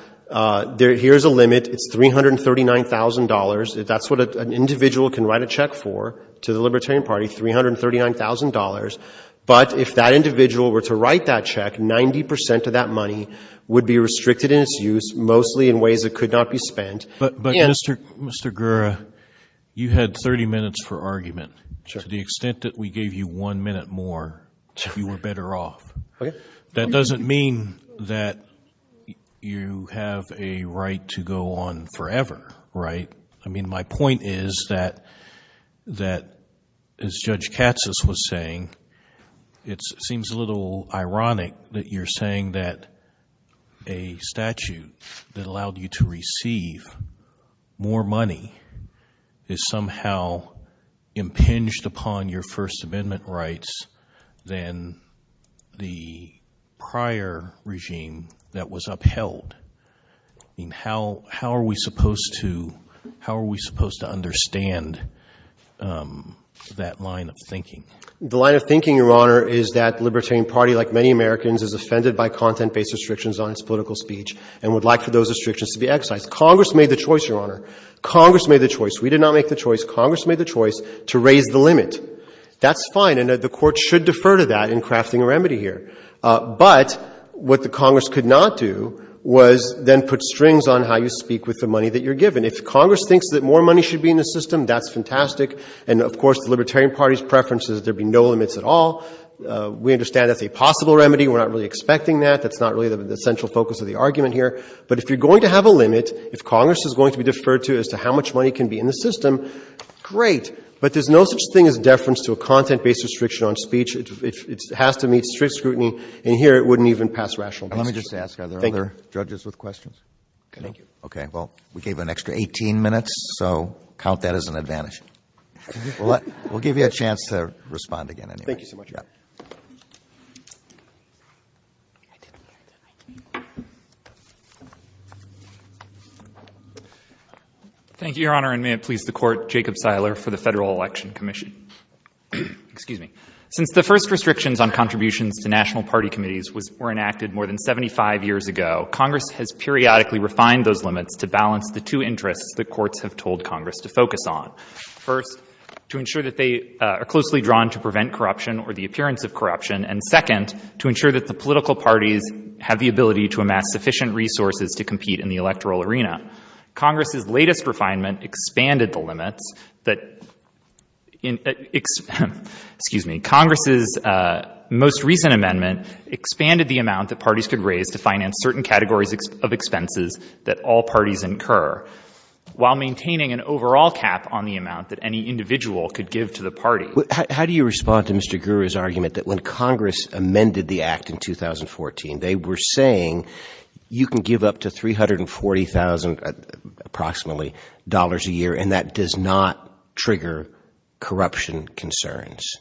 here's a limit. It's $339,000. That's what an individual can write a check for to the Libertarian Party, $339,000. But if that individual were to write that check, 90% of that money would be restricted in its use, mostly in ways that could not be spent. But, Mr. Gurra, you had 30 minutes for argument. To the extent that we gave you one minute more, you were better off. That doesn't mean that you have a right to go on forever, right? I mean, my point is that, as Judge Katsas was saying, it seems a little ironic that you're saying that a statute that allowed you to receive more money is somehow impinged upon your First Amendment rights than the prior regime that was upheld. How are we supposed to understand that line of thinking? The line of thinking, Your Honor, is that the Libertarian Party, like many Americans, is offended by content-based restrictions on its political speech and would like for those restrictions to be exercised. Congress made the choice, Your Honor. Congress made the choice. We did not make the choice. Congress made the choice to raise the limit. That's fine, and the Court should defer to that in crafting a remedy here. But what the Congress could not do was then put strings on how you speak with the money that you're given. If Congress thinks that more money should be in the system, that's fantastic. And, of course, the Libertarian Party's preference is there be no limits at all. We understand that's a possible remedy. We're not really expecting that. That's not really the central focus of the argument here. But if you're going to have a limit, if Congress is going to be deferred to as to how much money can be in the system, great. But there's no such thing as deference to a content-based restriction on speech. It has to meet strict scrutiny, and here it wouldn't even pass rational judgment. Let me just ask, are there other judges with questions? Thank you. Okay, well, we gave an extra 18 minutes, so count that as an advantage. We'll give you a chance to respond again. Thank you so much. Yeah. Thank you, Your Honor. And may it please the Court, Jacob Steiler for the Federal Election Commission. Excuse me. Since the first restrictions on contributions to national party committees were enacted more than 75 years ago, Congress has periodically refined those limits to balance the two interests that courts have told Congress to focus on. First, to ensure that they are closely drawn to prevent corruption or the appearance of corruption, and second, to ensure that the political parties have the ability to amass sufficient resources to compete in the electoral arena. Congress's latest refinement expanded the limits that – excuse me – Congress's most recent amendment expanded the amount that parties could raise to finance certain categories of expenses that all parties incur, while maintaining an overall cap on the amount that any individual could give to the party. How do you respond to Mr. Guru's argument that when Congress amended the act in 2014, they were saying you can give up to $340,000 approximately a year and that does not trigger corruption concerns?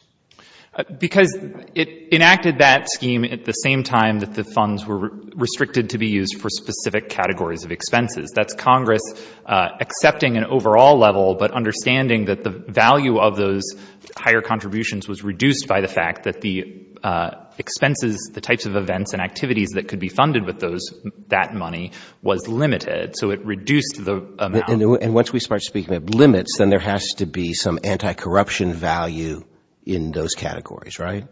Because it enacted that scheme at the same time that the funds were restricted to be used for specific categories of expenses. That's Congress accepting an overall level, but understanding that the value of those higher contributions was reduced by the expenses, the types of events and activities that could be funded with that money was limited, so it reduced the amount. And once we start speaking of limits, then there has to be some anti-corruption value in those categories, right?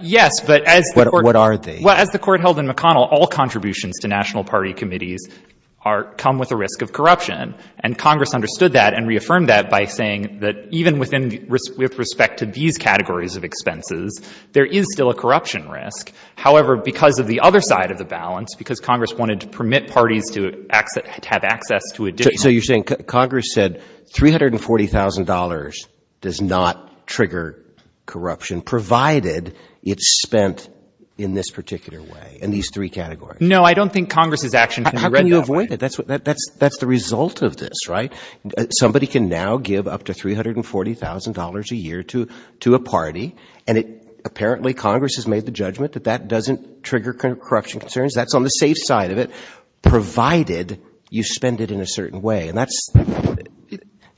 Yes, but as the court held in McConnell, all contributions to national party committees come with a risk of corruption, and Congress understood that and reaffirmed that by saying that even with respect to these categories of expenses, there is still a corruption risk. However, because of the other side of the balance, because Congress wanted to permit parties to have access to additional So you're saying Congress said $340,000 does not trigger corruption, provided it's spent in this particular way, in these three categories? No, I don't think Congress has actually read that. How can you avoid it? That's the result of this, right? Somebody can now give up to $340,000 a year to a party, and apparently Congress has made the judgment that that doesn't trigger corruption concerns. That's on the safe side of it, provided you spend it in a certain way.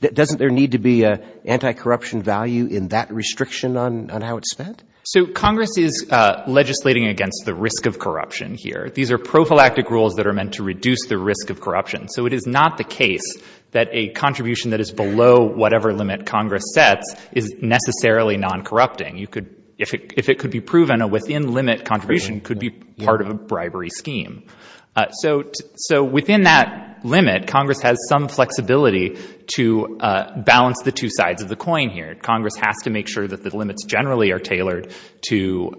Doesn't there need to be an anti-corruption value in that restriction on how it's spent? So Congress is legislating against the risk of corruption here. These are prophylactic rules that are meant to reduce the risk of corruption, so it is not the case that a contribution that is below whatever limit Congress sets is necessarily non-corrupting. If it could be proven a within-limit contribution, it could be part of a bribery scheme. So within that limit, Congress has some flexibility to balance the two sides of the coin here. Congress has to make sure that the limits generally are tailored to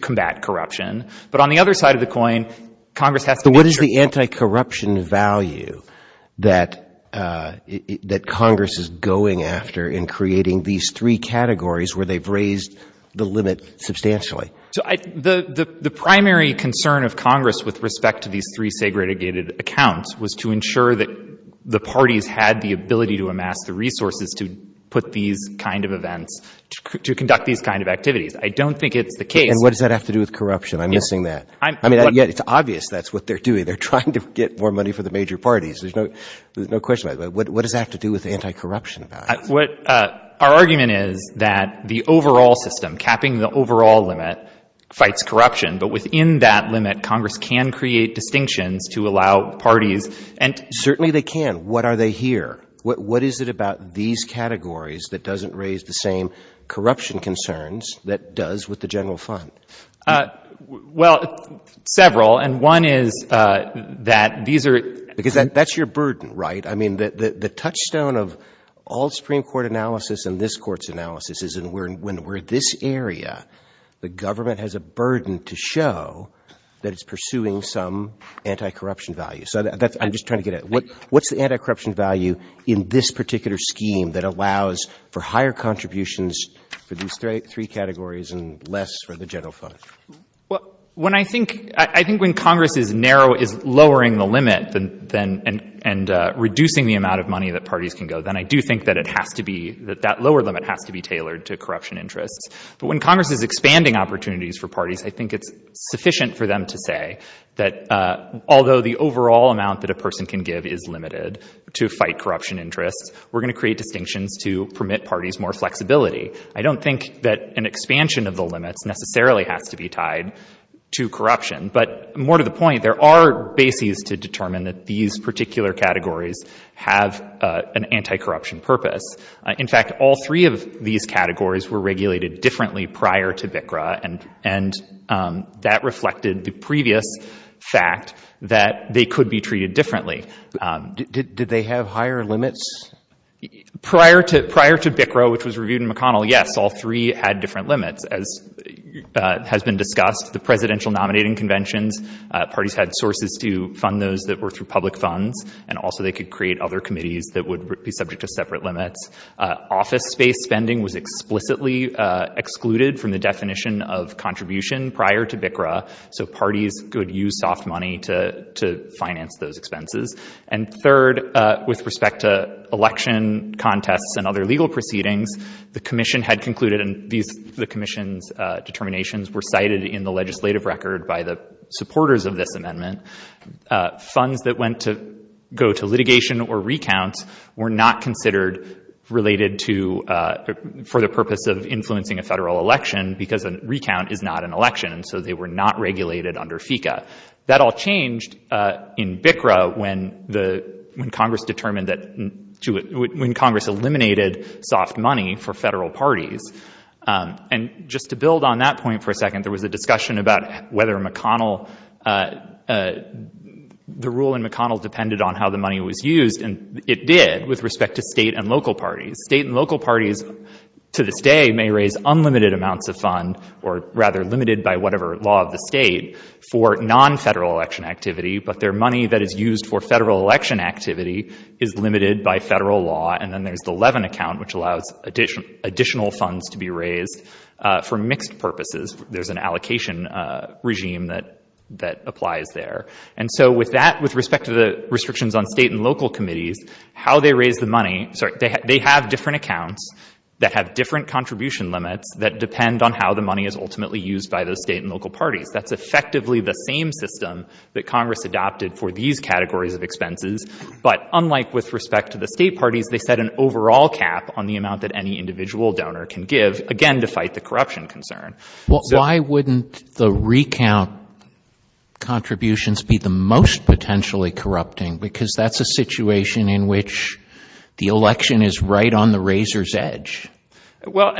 combat corruption. But on the other side of the coin, Congress has to make sure that there's an anti-corruption value that Congress is going after in creating these three categories where they've raised the limit substantially. So the primary concern of Congress with respect to these three segregated accounts was to ensure that the parties had the ability to amass the resources to put these kind of events, to conduct these kind of activities. I don't think it's the case. And what does that have to do with corruption? I'm missing that. I mean, it's obvious that's what they're doing. They're trying to get more money for the major parties. There's no question about it. What does that have to do with anti-corruption value? Our argument is that the overall system, capping the overall limit, fights corruption. But within that limit, Congress can create distinction to allow parties. Certainly they can. What are they here? What is it about these categories that doesn't raise the same corruption concerns that does with the general fund? Well, several. And one is that these are – because that's your burden, right? I mean, the touchstone of all Supreme Court analysis and this Court's analysis is when we're in this area, the government has a burden to show that it's pursuing some anti-corruption value. So I'm just trying to get at what's the anti-corruption value in this particular scheme that allows for higher contributions for these three categories and less for the general fund. Well, when I think – I think when Congress is lowering the limit and reducing the amount of money that parties can go, then I do think that it has to be – that that lower limit has to be tailored to corruption interest. But when Congress is expanding opportunities for parties, I think it's sufficient for them to say that although the overall amount that a person can give is limited to fight corruption interest, we're going to create distinctions to permit parties more flexibility. I don't think that an expansion of the limits necessarily has to be tied to corruption, but more to the point, there are bases to determine that these particular categories have an anti-corruption purpose. In fact, all three of these categories were regulated differently prior to BICRA, and that reflected the previous fact that they could be treated differently. Did they have higher limits? Prior to BICRA, which was reviewed in McConnell, yes, all three had different limits as has been discussed. The presidential nominating conventions, parties had sources to fund those that were through public funds, and also they could create other committees that would be subject to separate limits. Office-based spending was explicitly excluded from the definition of contribution prior to BICRA, so parties could use soft money to finance those expenses. Third, with respect to election contests and other legal proceedings, the commission had concluded, and the commission's determinations were cited in the legislative record by the supporters of this amendment, funds that went to litigation or recounts were not considered related for the purpose of influencing a federal election because a recount is not an election, so they were not regulated under FECA. That all changed in BICRA when Congress eliminated soft money for federal parties. And just to build on that point for a second, there was a discussion about whether the rule in McConnell depended on how the money was used, and it did with respect to state and local parties. State and local parties to this day may raise unlimited amounts of funds or rather limited by whatever law of the state for non-federal election activity, but their money that is used for federal election activity is limited by federal law. And then there's the Levin account, which allows additional funds to be raised for mixed purposes. There's an allocation regime that applies there. And so with that, with respect to the restrictions on state and local committees, how they raise the money, they have different accounts that have different contribution limits that depend on how the money is ultimately used by the state and local parties. That's effectively the same system that Congress adopted for these categories of expenses, but unlike with respect to the state parties, they set an overall cap on the amount that any individual donor can give, again to cite the corruption concern. Why wouldn't the recount contributions be the most potentially corrupting because that's a situation in which the election is right on the razor's edge? Well,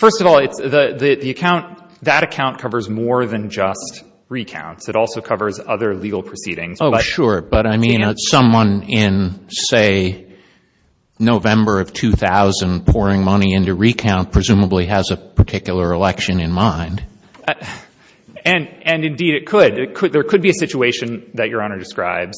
first of all, that account covers more than just recounts. It also covers other legal proceedings. Oh, sure, but I mean someone in, say, November of 2000 pouring money into recount presumably has a particular election in mind. And indeed it could. There could be a situation that Your Honor described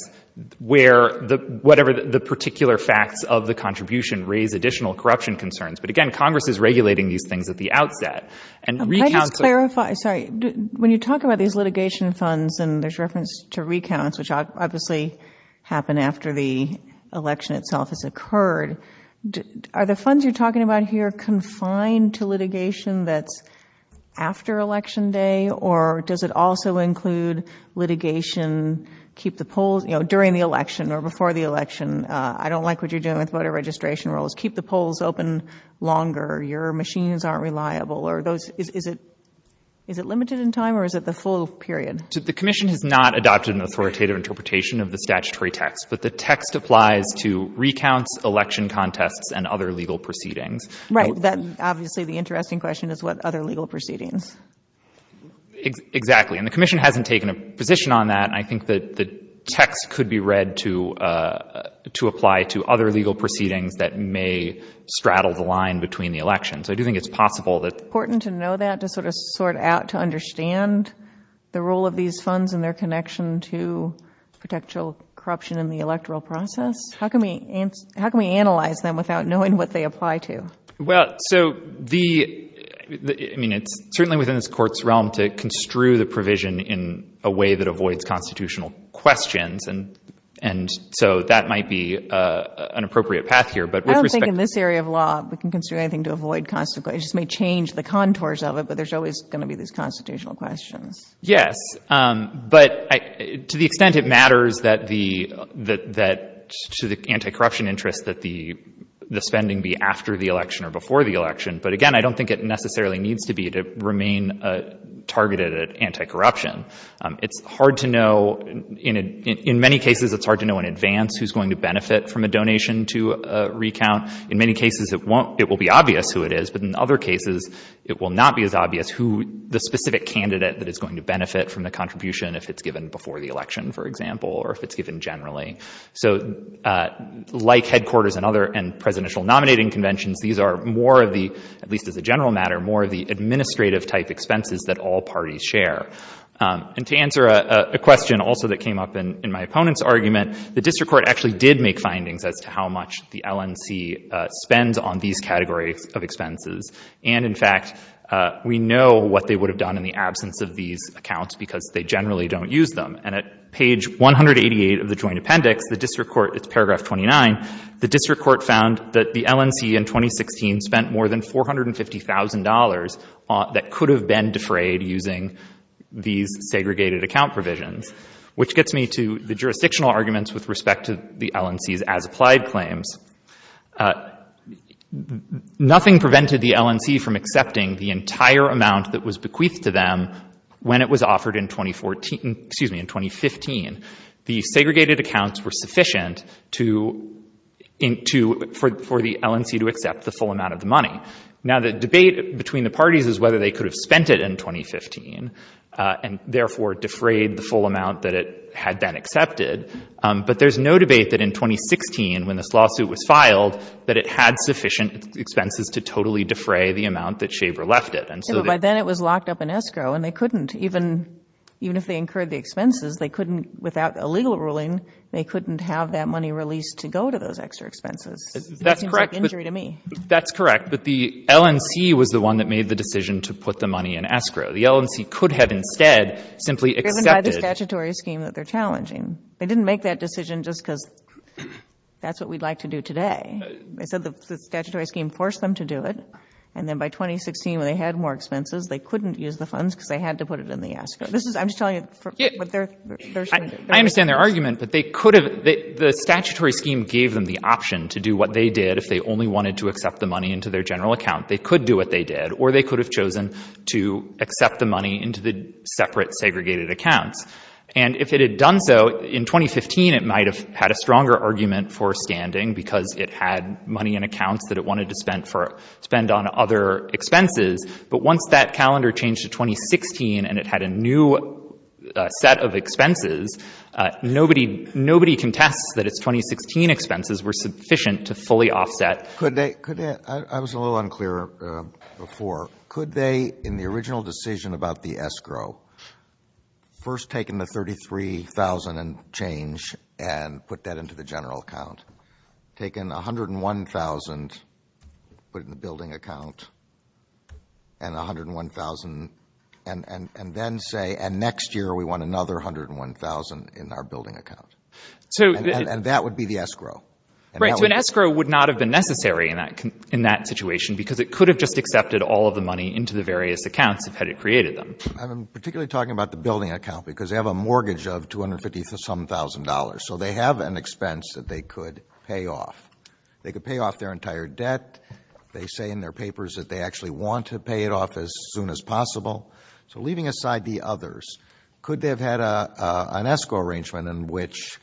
where whatever the particular facts of the contribution raise additional corruption concerns. But again, Congress is regulating these things at the outset. Let me clarify. When you talk about these litigation funds and there's reference to recounts, which obviously happen after the election itself has occurred, are the funds you're talking about here confined to litigation that's after Election Day, or does it also include litigation during the election or before the election? I don't like what you're doing with voter registration rolls. Keep the polls open longer. Your machines aren't reliable. Is it limited in time or is it the full period? The Commission has not adopted an authoritative interpretation of the statutory text, but the text applies to recounts, election contests, and other legal proceedings. Right, that's obviously the interesting question is what other legal proceedings. Exactly, and the Commission hasn't taken a position on that. I think that the text could be read to apply to other legal proceedings that may straddle the line between the elections. I do think it's possible that... It's important to know that to sort of sort out to understand the role of these funds and their connection to potential corruption in the electoral process. How can we analyze them without knowing what they apply to? Well, so the, I mean, it's certainly within this court's realm to construe the provision in a way that avoids constitutional questions, and so that might be an appropriate path here. I don't think in this area of law we can construe anything to avoid constitutional questions. It may change the contours of it, but there's always going to be these constitutional questions. Yes, but to the extent it matters that to the anti-corruption interest that the spending be after the election or before the election, but again, I don't think it necessarily needs to be to remain targeted at anti-corruption. It's hard to know... In many cases, it's hard to know in advance who's going to benefit from a donation to recount. In many cases, it will be obvious who it is, but in other cases, it will not be as obvious who the specific candidate that is going to benefit from the contribution if it's given before the election, for example, or if it's given generally. So like headquarters and presidential nominating conventions, these are more of the, at least as a general matter, more of the administrative-type expenses that all parties share. And to answer a question also that came up in my opponent's argument, the district court actually did make findings as to how much the LNC spends on these categories of expenses, and in fact, we know what they would have done in the absence of these accounts because they generally don't use them. And at page 188 of the Joint Appendix, the district court, it's paragraph 29, the district court found that the LNC in 2016 spent more than $450,000 that could have been defrayed using these segregated account provisions, which gets me to the jurisdictional arguments with respect to the LNC's as-applied claims. Nothing prevented the LNC from accepting the entire amount that was bequeathed to them when it was offered in 2015. The segregated accounts were sufficient for the LNC to accept the full amount of the money. Now, the debate between the parties is whether they could have spent it in 2015 and therefore defrayed the full amount that had been accepted, but there's no debate that in 2016, when this lawsuit was filed, that it had sufficient expenses to totally defray the amount that Shaver left it. By then it was locked up in escrow, and they couldn't, even if they incurred the expenses, they couldn't, without a legal ruling, they couldn't have that money released to go to those extra expenses. That's correct, but the LNC was the one that made the decision to put the money in escrow. The LNC could have instead simply accepted... Given by the statutory scheme that they're challenging. They didn't make that decision just because that's what we'd like to do today. They said the statutory scheme forced them to do it, and then by 2016 when they had more expenses, they couldn't use the funds because they had to put it in the escrow. I'm just telling you what they're saying. I understand their argument, but the statutory scheme gave them the option to do what they did if they only wanted to accept the money into their general account. They could do what they did, or they could have chosen to accept the money into the separate segregated account, and if it had done so in 2015, it might have had a stronger argument for standing because it had money in accounts that it wanted to spend on other expenses, but once that calendar changed to 2016 and it had a new set of expenses, nobody can test that its 2016 expenses were sufficient to fully offset... I was a little unclear before. Could they, in the original decision about the escrow, first taken the $33,000 change and put that into the general account? Taken $101,000, put it in the building account, and $101,000 and then say, and next year we want another $101,000 in our building account, and that would be the escrow. Right, so an escrow would not have been necessary in that situation because it could have just accepted all of the money into the various accounts had it created them. I'm particularly talking about the building account because they have a mortgage of $250,000, so they have an expense that they could pay off. They could pay off their entire debt. They say in their papers that they actually want to pay it off as soon as possible. So leaving aside the others, could they have had an escrow arrangement in which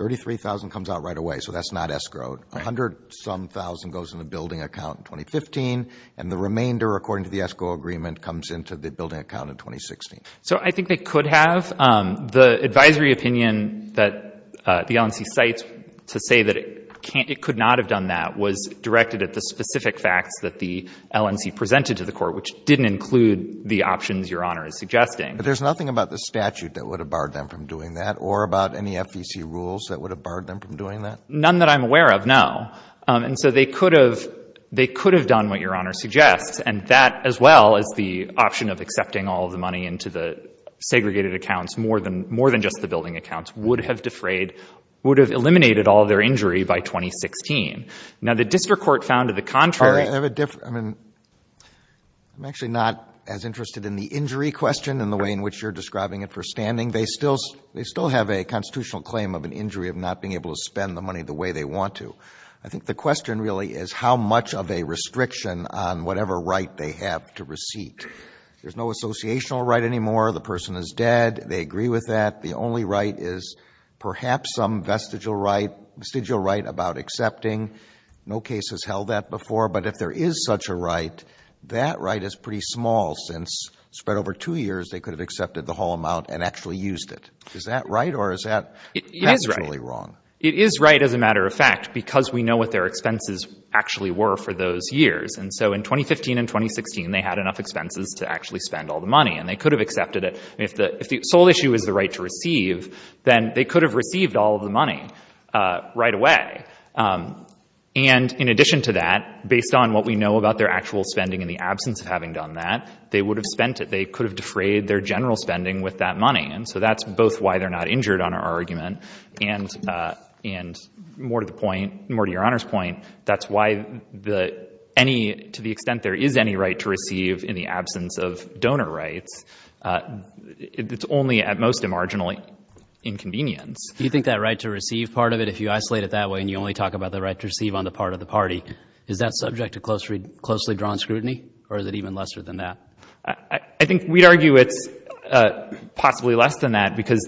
$33,000 comes out right away, so that's not escrowed. $100,000-some goes in the building account in 2015, and the remainder, according to the escrow agreement, comes into the building account in 2016. So I think they could have. The advisory opinion that the LNC cites to say that it could not have done that was directed at the specific facts that the LNC presented to the court, which didn't include the options Your Honor is suggesting. But there's nothing about the statute that would have barred them from doing that or about any FDC rules that would have barred them from doing that? None that I'm aware of, no. And so they could have done what Your Honor suggests, and that as well as the option of accepting all of the money into the segregated accounts, more than just the building accounts, would have defrayed, would have eliminated all of their injury by 2016. Now the district court found to the contrary. I'm actually not as interested in the injury question and the way in which you're describing it for standing. They still have a constitutional claim of an injury of not being able to spend the money the way they want to. I think the question really is how much of a restriction on whatever right they have to receipt. There's no associational right anymore. The person is dead. They agree with that. The only right is perhaps some vestigial right about accepting. No case has held that before. But if there is such a right, that right is pretty small since spread over two years they could have accepted the whole amount and actually used it. Is that right or is that actually wrong? It is right, as a matter of fact, because we know what their expenses actually were for those years. In 2015 and 2016 they had enough expenses to actually spend all the money and they could have accepted it. If the sole issue is the right to receive, then they could have received all of the money right away. In addition to that, based on what we know about their actual spending in the absence of having done that, they would have spent it. They could have defrayed their general spending with that money. That's both why they're not injured on our argument and more to your Honor's point, that's why to the extent there is any right to receive in the absence of donor rights, it's only at most a marginal inconvenience. You think that right to receive part of it, if you isolate it that way and you only talk about the right to receive on the part of the party, is that subject to closely drawn scrutiny or is it even lesser than that? I think we'd argue it's possibly less than that because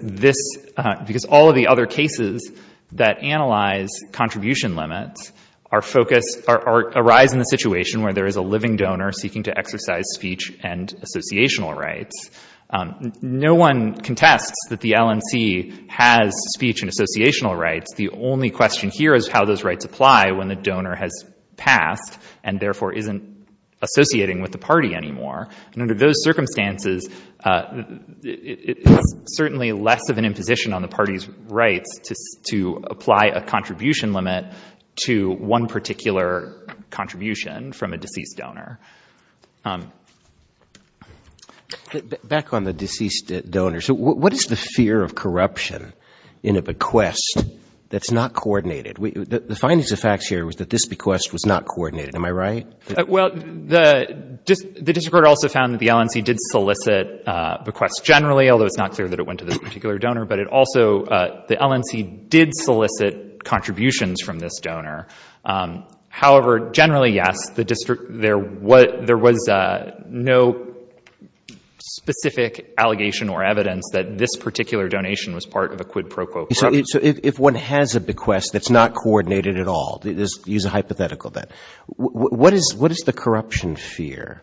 all of the other cases that analyze contribution limits arise in a situation where there is a living donor seeking to exercise speech and associational rights. No one contests that the LNC has speech and associational rights. The only question here is how those rights apply when the donor has passed and therefore isn't associating with the party anymore. Under those circumstances, it's certainly less of an imposition on the party's right to apply a contribution limit to one particular contribution from a deceased donor. Back on the deceased donors, what is the fear of corruption in a bequest that's not coordinated? The findings of facts here was that this bequest was not coordinated. Am I right? Well, the district court also found that the LNC did solicit bequests generally, although it's not clear that it went to this particular donor, but also the LNC did solicit contributions from this donor. However, generally, yes, there was no specific allegation or evidence that this particular donation was part of a quid pro quo. So if one has a bequest that's not coordinated at all, use a hypothetical then, what is the corruption fear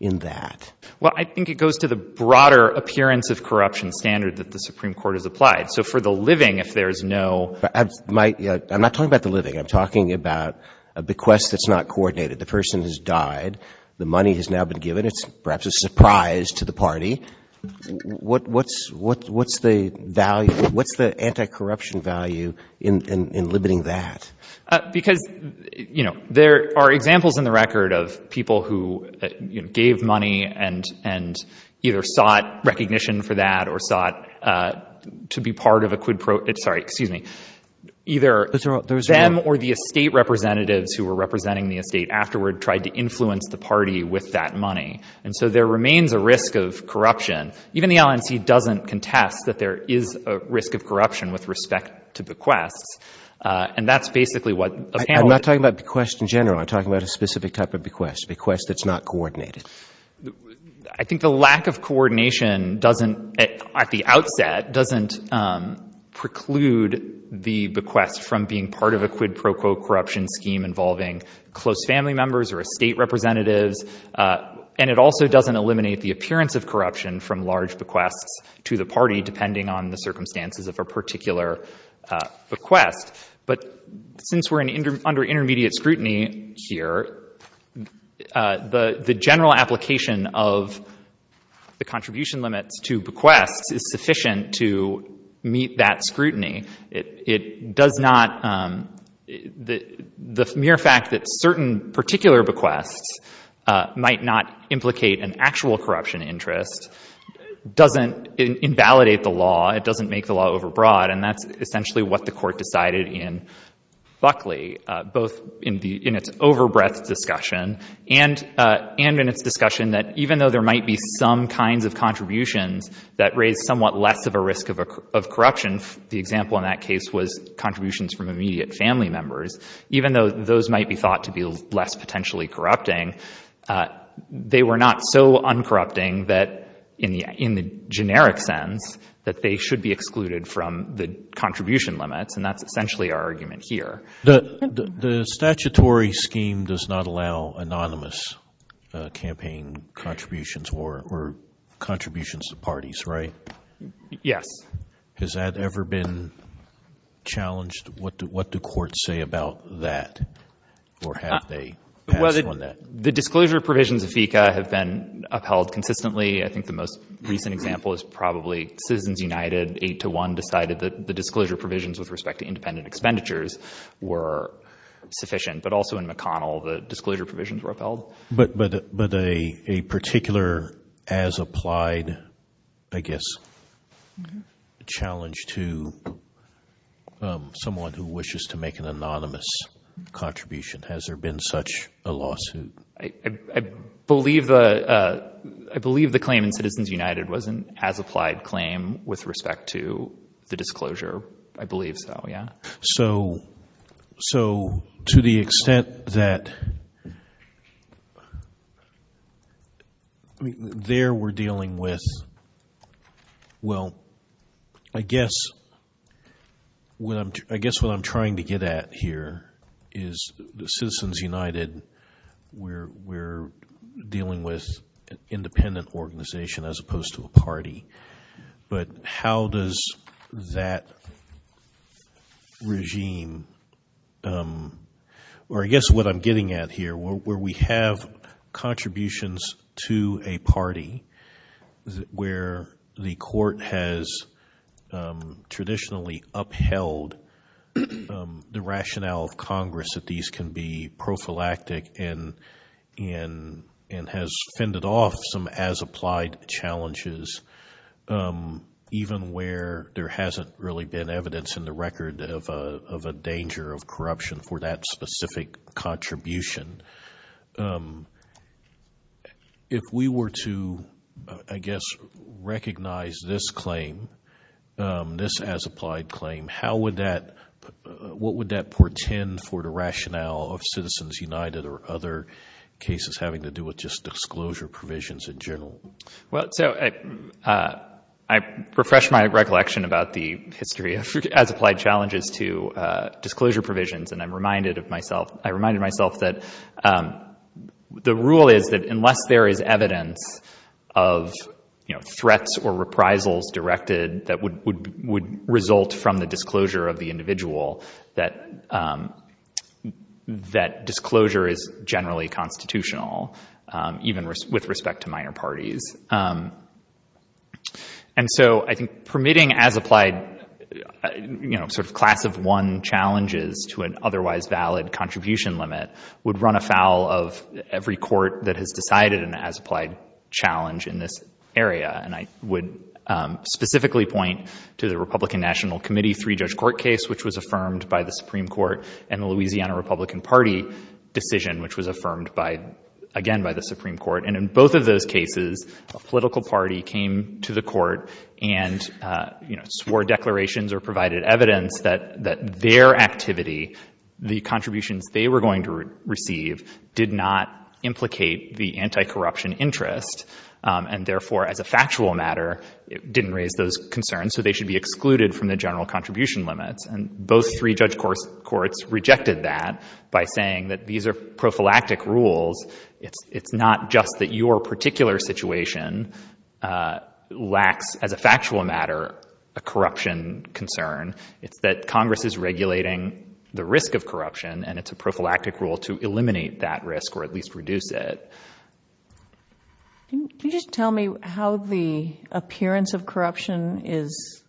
in that? Well, I think it goes to the broader appearance of corruption standards that the Supreme Court has applied. So for the living, if there's no— I'm not talking about the living. I'm talking about a bequest that's not coordinated. The person has died. The money has now been given. It's perhaps a surprise to the party. What's the value? What's the anti-corruption value in limiting that? Because, you know, there are examples in the record of people who gave money and either sought recognition for that or sought to be part of a quid pro— sorry, excuse me, either them or the estate representatives who were representing the estate afterward tried to influence the party with that money. And so there remains a risk of corruption. Even the LNC doesn't contest that there is a risk of corruption with respect to bequests, and that's basically what the panel— I'm not talking about bequests in general. I'm talking about a specific type of bequest, a bequest that's not coordinated. I think the lack of coordination at the outset doesn't preclude the bequest from being part of a quid pro quo corruption scheme involving close family members or estate representatives, and it also doesn't eliminate the appearance of corruption from large bequests to the party depending on the circumstances of a particular bequest. But since we're under intermediate scrutiny here, the general application of the contribution limits to bequests is sufficient to meet that scrutiny. It does not—the mere fact that certain particular bequests might not implicate an actual corruption interest doesn't invalidate the law. It doesn't make the law overbroad, and that's essentially what the court decided in Buckley, both in its over-breath discussion and in its discussion that even though there might be some kinds of contributions that raise somewhat less of a risk of corruption— the example in that case was contributions from immediate family members— even though those might be thought to be less potentially corrupting, they were not so uncorrupting that, in the generic sense, that they should be excluded from the contribution limits, and that's essentially our argument here. The statutory scheme does not allow anonymous campaign contributions or contributions to parties, right? Yes. Has that ever been challenged? What do courts say about that? Well, the disclosure provisions of FECA have been upheld consistently. I think the most recent example is probably Citizens United, 8-1, decided that the disclosure provisions with respect to independent expenditures were sufficient, but also in McConnell the disclosure provisions were upheld. But a particular as-applied, I guess, challenge to someone who wishes to make an anonymous contribution. Has there been such a lawsuit? I believe the claim in Citizens United was an as-applied claim with respect to the disclosure. I believe so, yeah. So, to the extent that there we're dealing with— well, I guess what I'm trying to get at here is Citizens United, we're dealing with an independent organization as opposed to a party, but how does that regime— or I guess what I'm getting at here, where we have contributions to a party where the court has traditionally upheld the rationale of Congress that these can be prophylactic and has fended off some as-applied challenges, even where there hasn't really been evidence in the record of a danger of corruption for that specific contribution. If we were to, I guess, recognize this claim, this as-applied claim, how would that—what would that portend for the rationale of Citizens United or other cases having to do with just disclosure provisions in general? Well, so I refresh my recollection about the history as-applied challenges to disclosure provisions, and I'm reminded of myself— I reminded myself that the rule is that unless there is evidence of threats or reprisals directed that would result from the disclosure of the individual, that disclosure is generally constitutional, even with respect to minor parties. And so I think permitting as-applied— sort of class of one challenges to an otherwise valid contribution limit would run afoul of every court that has decided an as-applied challenge in this area, and I would specifically point to the Republican National Committee three-judge court case, which was affirmed by the Supreme Court, and the Louisiana Republican Party decision, which was affirmed, again, by the Supreme Court. And in both of those cases, a political party came to the court and swore declarations or provided evidence that their activity, the contributions they were going to receive, did not implicate the anti-corruption interest, and therefore, as a factual matter, didn't raise those concerns, so they should be excluded from the general contribution limits. And both three-judge courts rejected that by saying that these are prophylactic rules. It's not just that your particular situation lacks, as a factual matter, a corruption concern. It's that Congress is regulating the risk of corruption, and it's a prophylactic rule to eliminate that risk or at least reduce it. Can you just tell me how the appearance of corruption is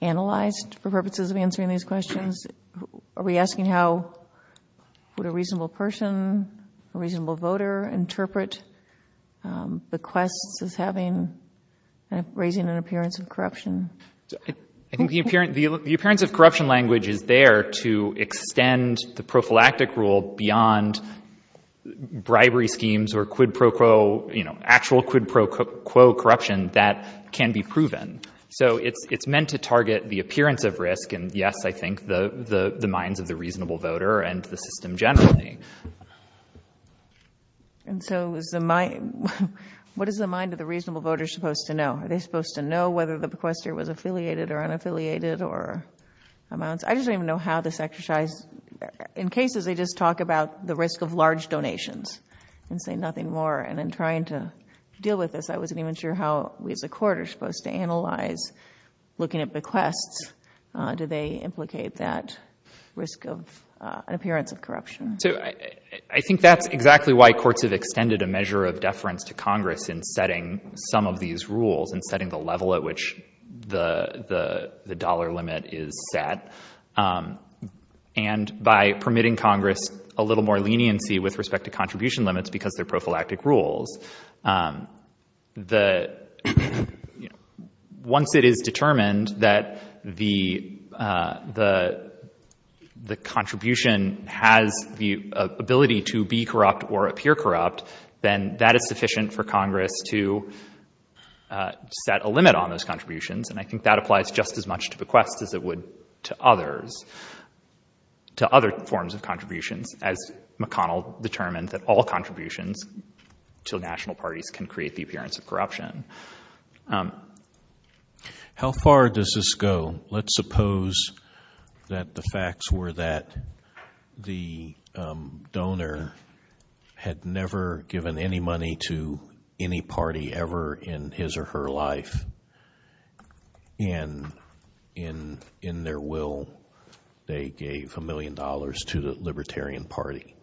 analyzed for purposes of answering these questions? Are we asking how would a reasonable person, a reasonable voter, interpret the quest of having and raising an appearance of corruption? I think the appearance of corruption language is there to extend the prophylactic rule beyond bribery schemes or quid pro quo, actual quid pro quo corruption that can be proven. So it's meant to target the appearance of risk, and yes, I think, the minds of the reasonable voter and the system generally. And so what is the mind of the reasonable voter supposed to know? Are they supposed to know whether the bequestor was affiliated or unaffiliated or amounts? I just don't even know how this exercise, in cases, they just talk about the risk of large donations and say nothing more, and then trying to deal with this. I wasn't even sure how we as a court are supposed to analyze looking at bequests. Do they implicate that risk of appearance of corruption? I think that's exactly why courts have extended a measure of deference to Congress in setting some of these rules and setting the level at which the dollar limit is set, and by permitting Congress a little more leniency with respect to contribution limits because they're prophylactic rules. Once it is determined that the contribution has the ability to be corrupt or appear corrupt, then that is sufficient for Congress to set a limit on those contributions, and I think that applies just as much to bequests as it would to others, to other forms of contributions as McConnell determined that all contributions to national parties can create the appearance of corruption. How far does this go? Let's suppose that the facts were that the donor had never given any money to any party ever in his or her life, and in their will they gave a million dollars to the Libertarian Party,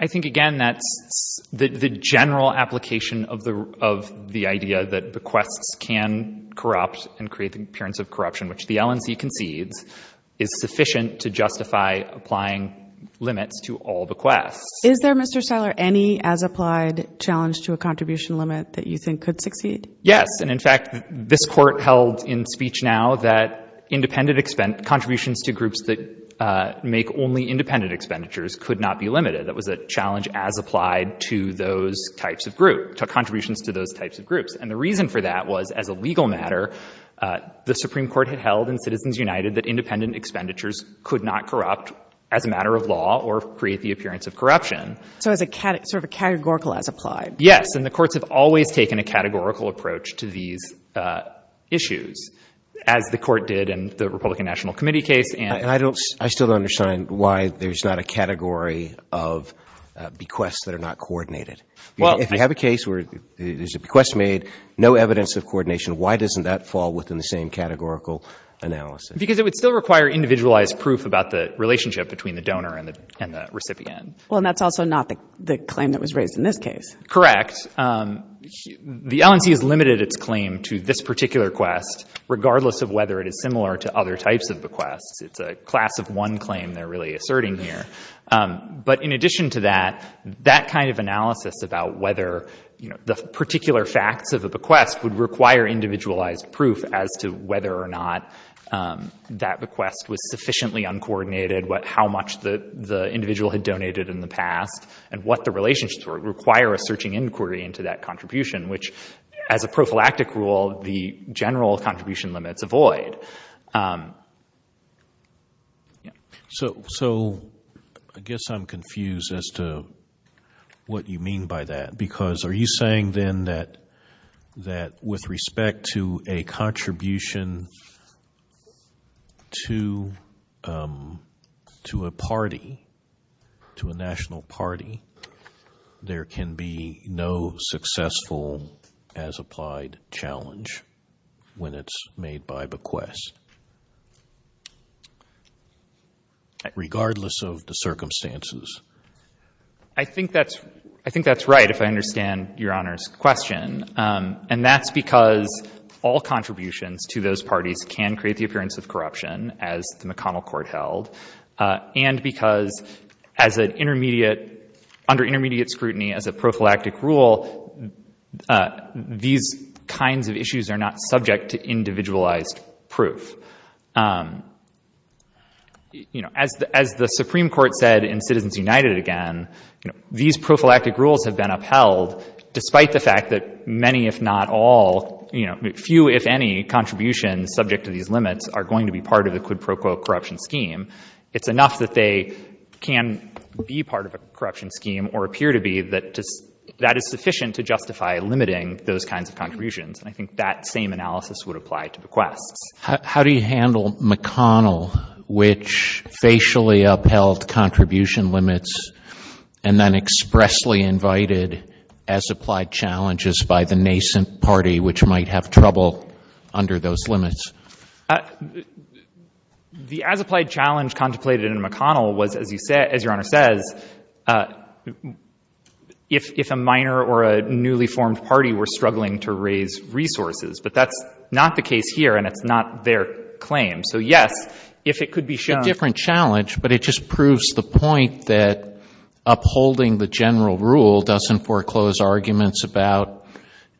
I think, again, that the general application of the idea that bequests can corrupt and create the appearance of corruption, which the LNC conceived, is sufficient to justify applying limits to all bequests. Is there, Mr. Stahler, any as-applied challenge to a contribution limit that you think could succeed? Yes, and, in fact, this Court held in speech now that independent contributions to groups that make only independent expenditures could not be limited. It was a challenge as-applied to those types of groups, to contributions to those types of groups, and the reason for that was, as a legal matter, the Supreme Court had held in Citizens United that independent expenditures could not corrupt as a matter of law or create the appearance of corruption. So it's sort of a categorical as-applied. Yes, and the Court has always taken a categorical approach to these issues, as the Court did in the Republican National Committee case. I still don't understand why there's not a category of bequests that are not coordinated. If you have a case where there's a bequest made, no evidence of coordination, why doesn't that fall within the same categorical analysis? Because it would still require individualized proof about the relationship between the donor and the recipient. Well, and that's also not the claim that was raised in this case. Correct. The LNP has limited its claim to this particular quest, regardless of whether it is similar to other types of bequests. It's a class of one claim they're really asserting here. But in addition to that, that kind of analysis about whether the particular facts of the bequest would require individualized proof as to whether or not that bequest was sufficiently uncoordinated, how much the individual had donated in the past, and what the relationships were require a searching inquiry into that contribution, which as a prophylactic rule, the general contribution limit, the void. So I guess I'm confused as to what you mean by that, because are you saying then that with respect to a contribution to a party, to a national party, there can be no successful as applied challenge when it's made by bequest, regardless of the circumstances? I think that's right, if I understand Your Honor's question. And that's because all contributions to those parties can create the appearance of corruption, as the McConnell Court held, and because under intermediate scrutiny as a prophylactic rule, these kinds of issues are not subject to individualized proof. As the Supreme Court said in Citizens United again, these prophylactic rules have been upheld despite the fact that many, if not all, few if any contributions subject to these limits are going to be part of a quid pro quo corruption scheme. It's enough that they can be part of a corruption scheme or appear to be that is sufficient to justify limiting those kinds of contributions. I think that same analysis would apply to bequest. How do you handle McConnell, which facially upheld contribution limits and then expressly invited as applied challenges by the nascent party, which might have trouble under those limits? The as applied challenge contemplated in McConnell was, as Your Honor says, if a minor or a newly formed party were struggling to raise resources. But that's not the case here, and it's not their claim. So, yes, if it could be shown It's a different challenge, but it just proves the point that upholding the general rule doesn't foreclose arguments about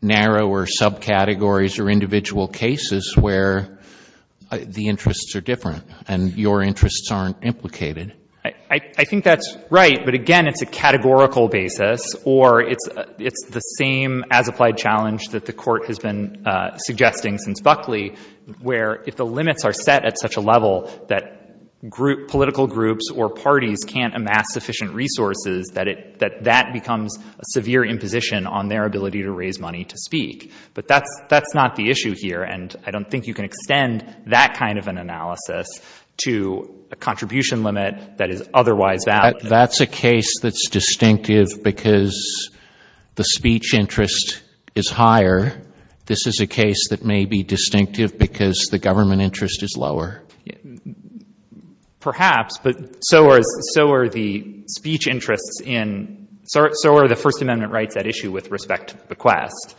narrower subcategories or individual cases where the interests are different and your interests aren't implicated. I think that's right, but again, it's a categorical basis, or it's the same as applied challenge that the court has been suggesting since Buckley where if the limits are set at such a level that political groups or parties can't amass sufficient resources, that that becomes a severe imposition on their ability to raise money to speak. But that's not the issue here, and I don't think you can extend that kind of an analysis to a contribution limit that is otherwise that. If that's a case that's distinctive because the speech interest is higher, this is a case that may be distinctive because the government interest is lower. Perhaps, but so are the first amendment rights that issue with respect to bequest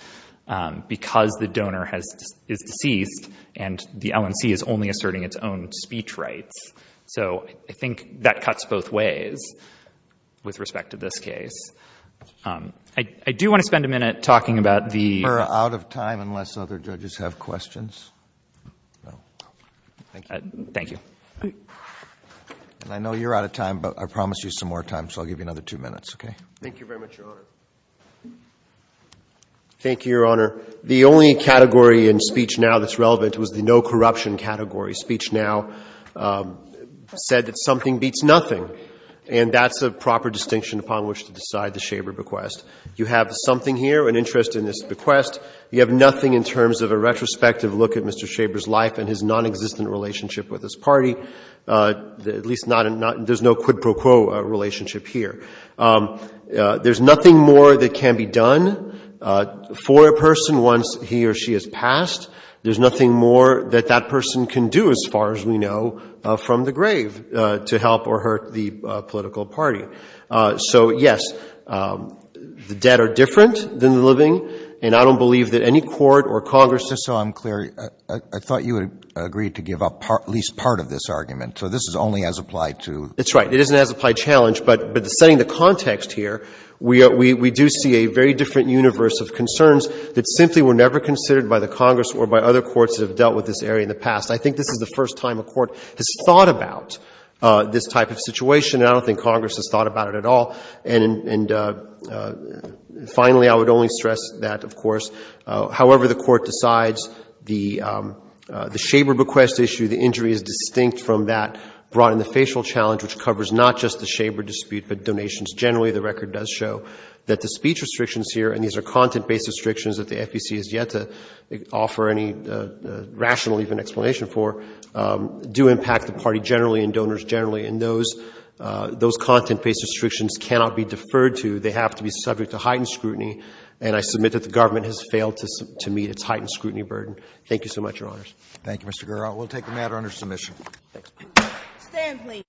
because the donor is deceased and the LNC is only asserting its own speech rights. So I think that cuts both ways with respect to this case. I do want to spend a minute talking about the- We're out of time unless other judges have questions. Thank you. I know you're out of time, but I promise you some more time, so I'll give you another two minutes, okay? Thank you very much, Your Honor. Thank you, Your Honor. The only category in Speech Now that's relevant was the no corruption category. Speech Now said that something beats nothing, and that's a proper distinction upon which to decide the Schaeber bequest. You have something here, an interest in this bequest. You have nothing in terms of a retrospective look at Mr. Schaeber's life and his nonexistent relationship with his party, at least there's no quid pro quo relationship here. There's nothing more that can be done for a person once he or she has passed. There's nothing more that that person can do as far as we know from the grave to help or hurt the political party. So, yes, the dead are different than the living, and I don't believe that any court or Congress- Just so I'm clear, I thought you had agreed to give up at least part of this argument, so this is only as applied to- That's right. It is an as-applied challenge, but setting the context here, we do see a very different universe of concerns that simply were never considered by the Congress or by other courts that have dealt with this area in the past. I think this is the first time a court has thought about this type of situation, and I don't think Congress has thought about it at all. And finally, I would only stress that, of course, however the court decides, the Schaeber bequest issue, the injury is distinct from that, brought in the facial challenge, which covers not just the Schaeber dispute, but donations generally. The record does show that the speech restrictions here, and these are content-based restrictions that the FEC has yet to offer any rational even explanation for, do impact the party generally and donors generally, and those content-based restrictions cannot be deferred to. They have to be subject to heightened scrutiny, and I submit that the government has failed to meet its heightened scrutiny burden. Thank you so much, Your Honors. Thank you, Mr. Guerra. We'll take the matter under submission. Thank you. Thank you.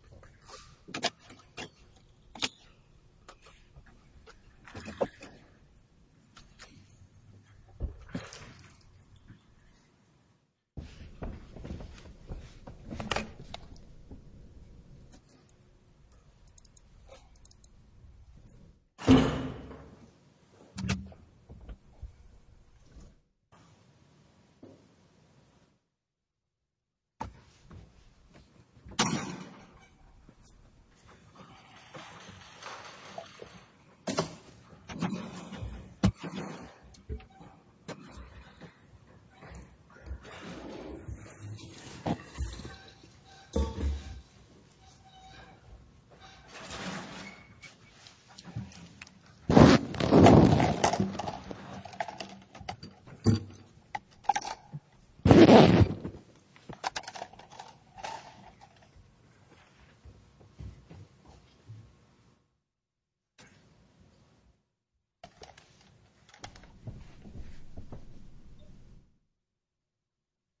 Thank you. Thank you. Thank you. Thank you. Thank you. Thank you. Thank you. Thank you. Thank you. Thank you. Thank you. Thank you. Thank you. Thank you. Thank you. Thank you.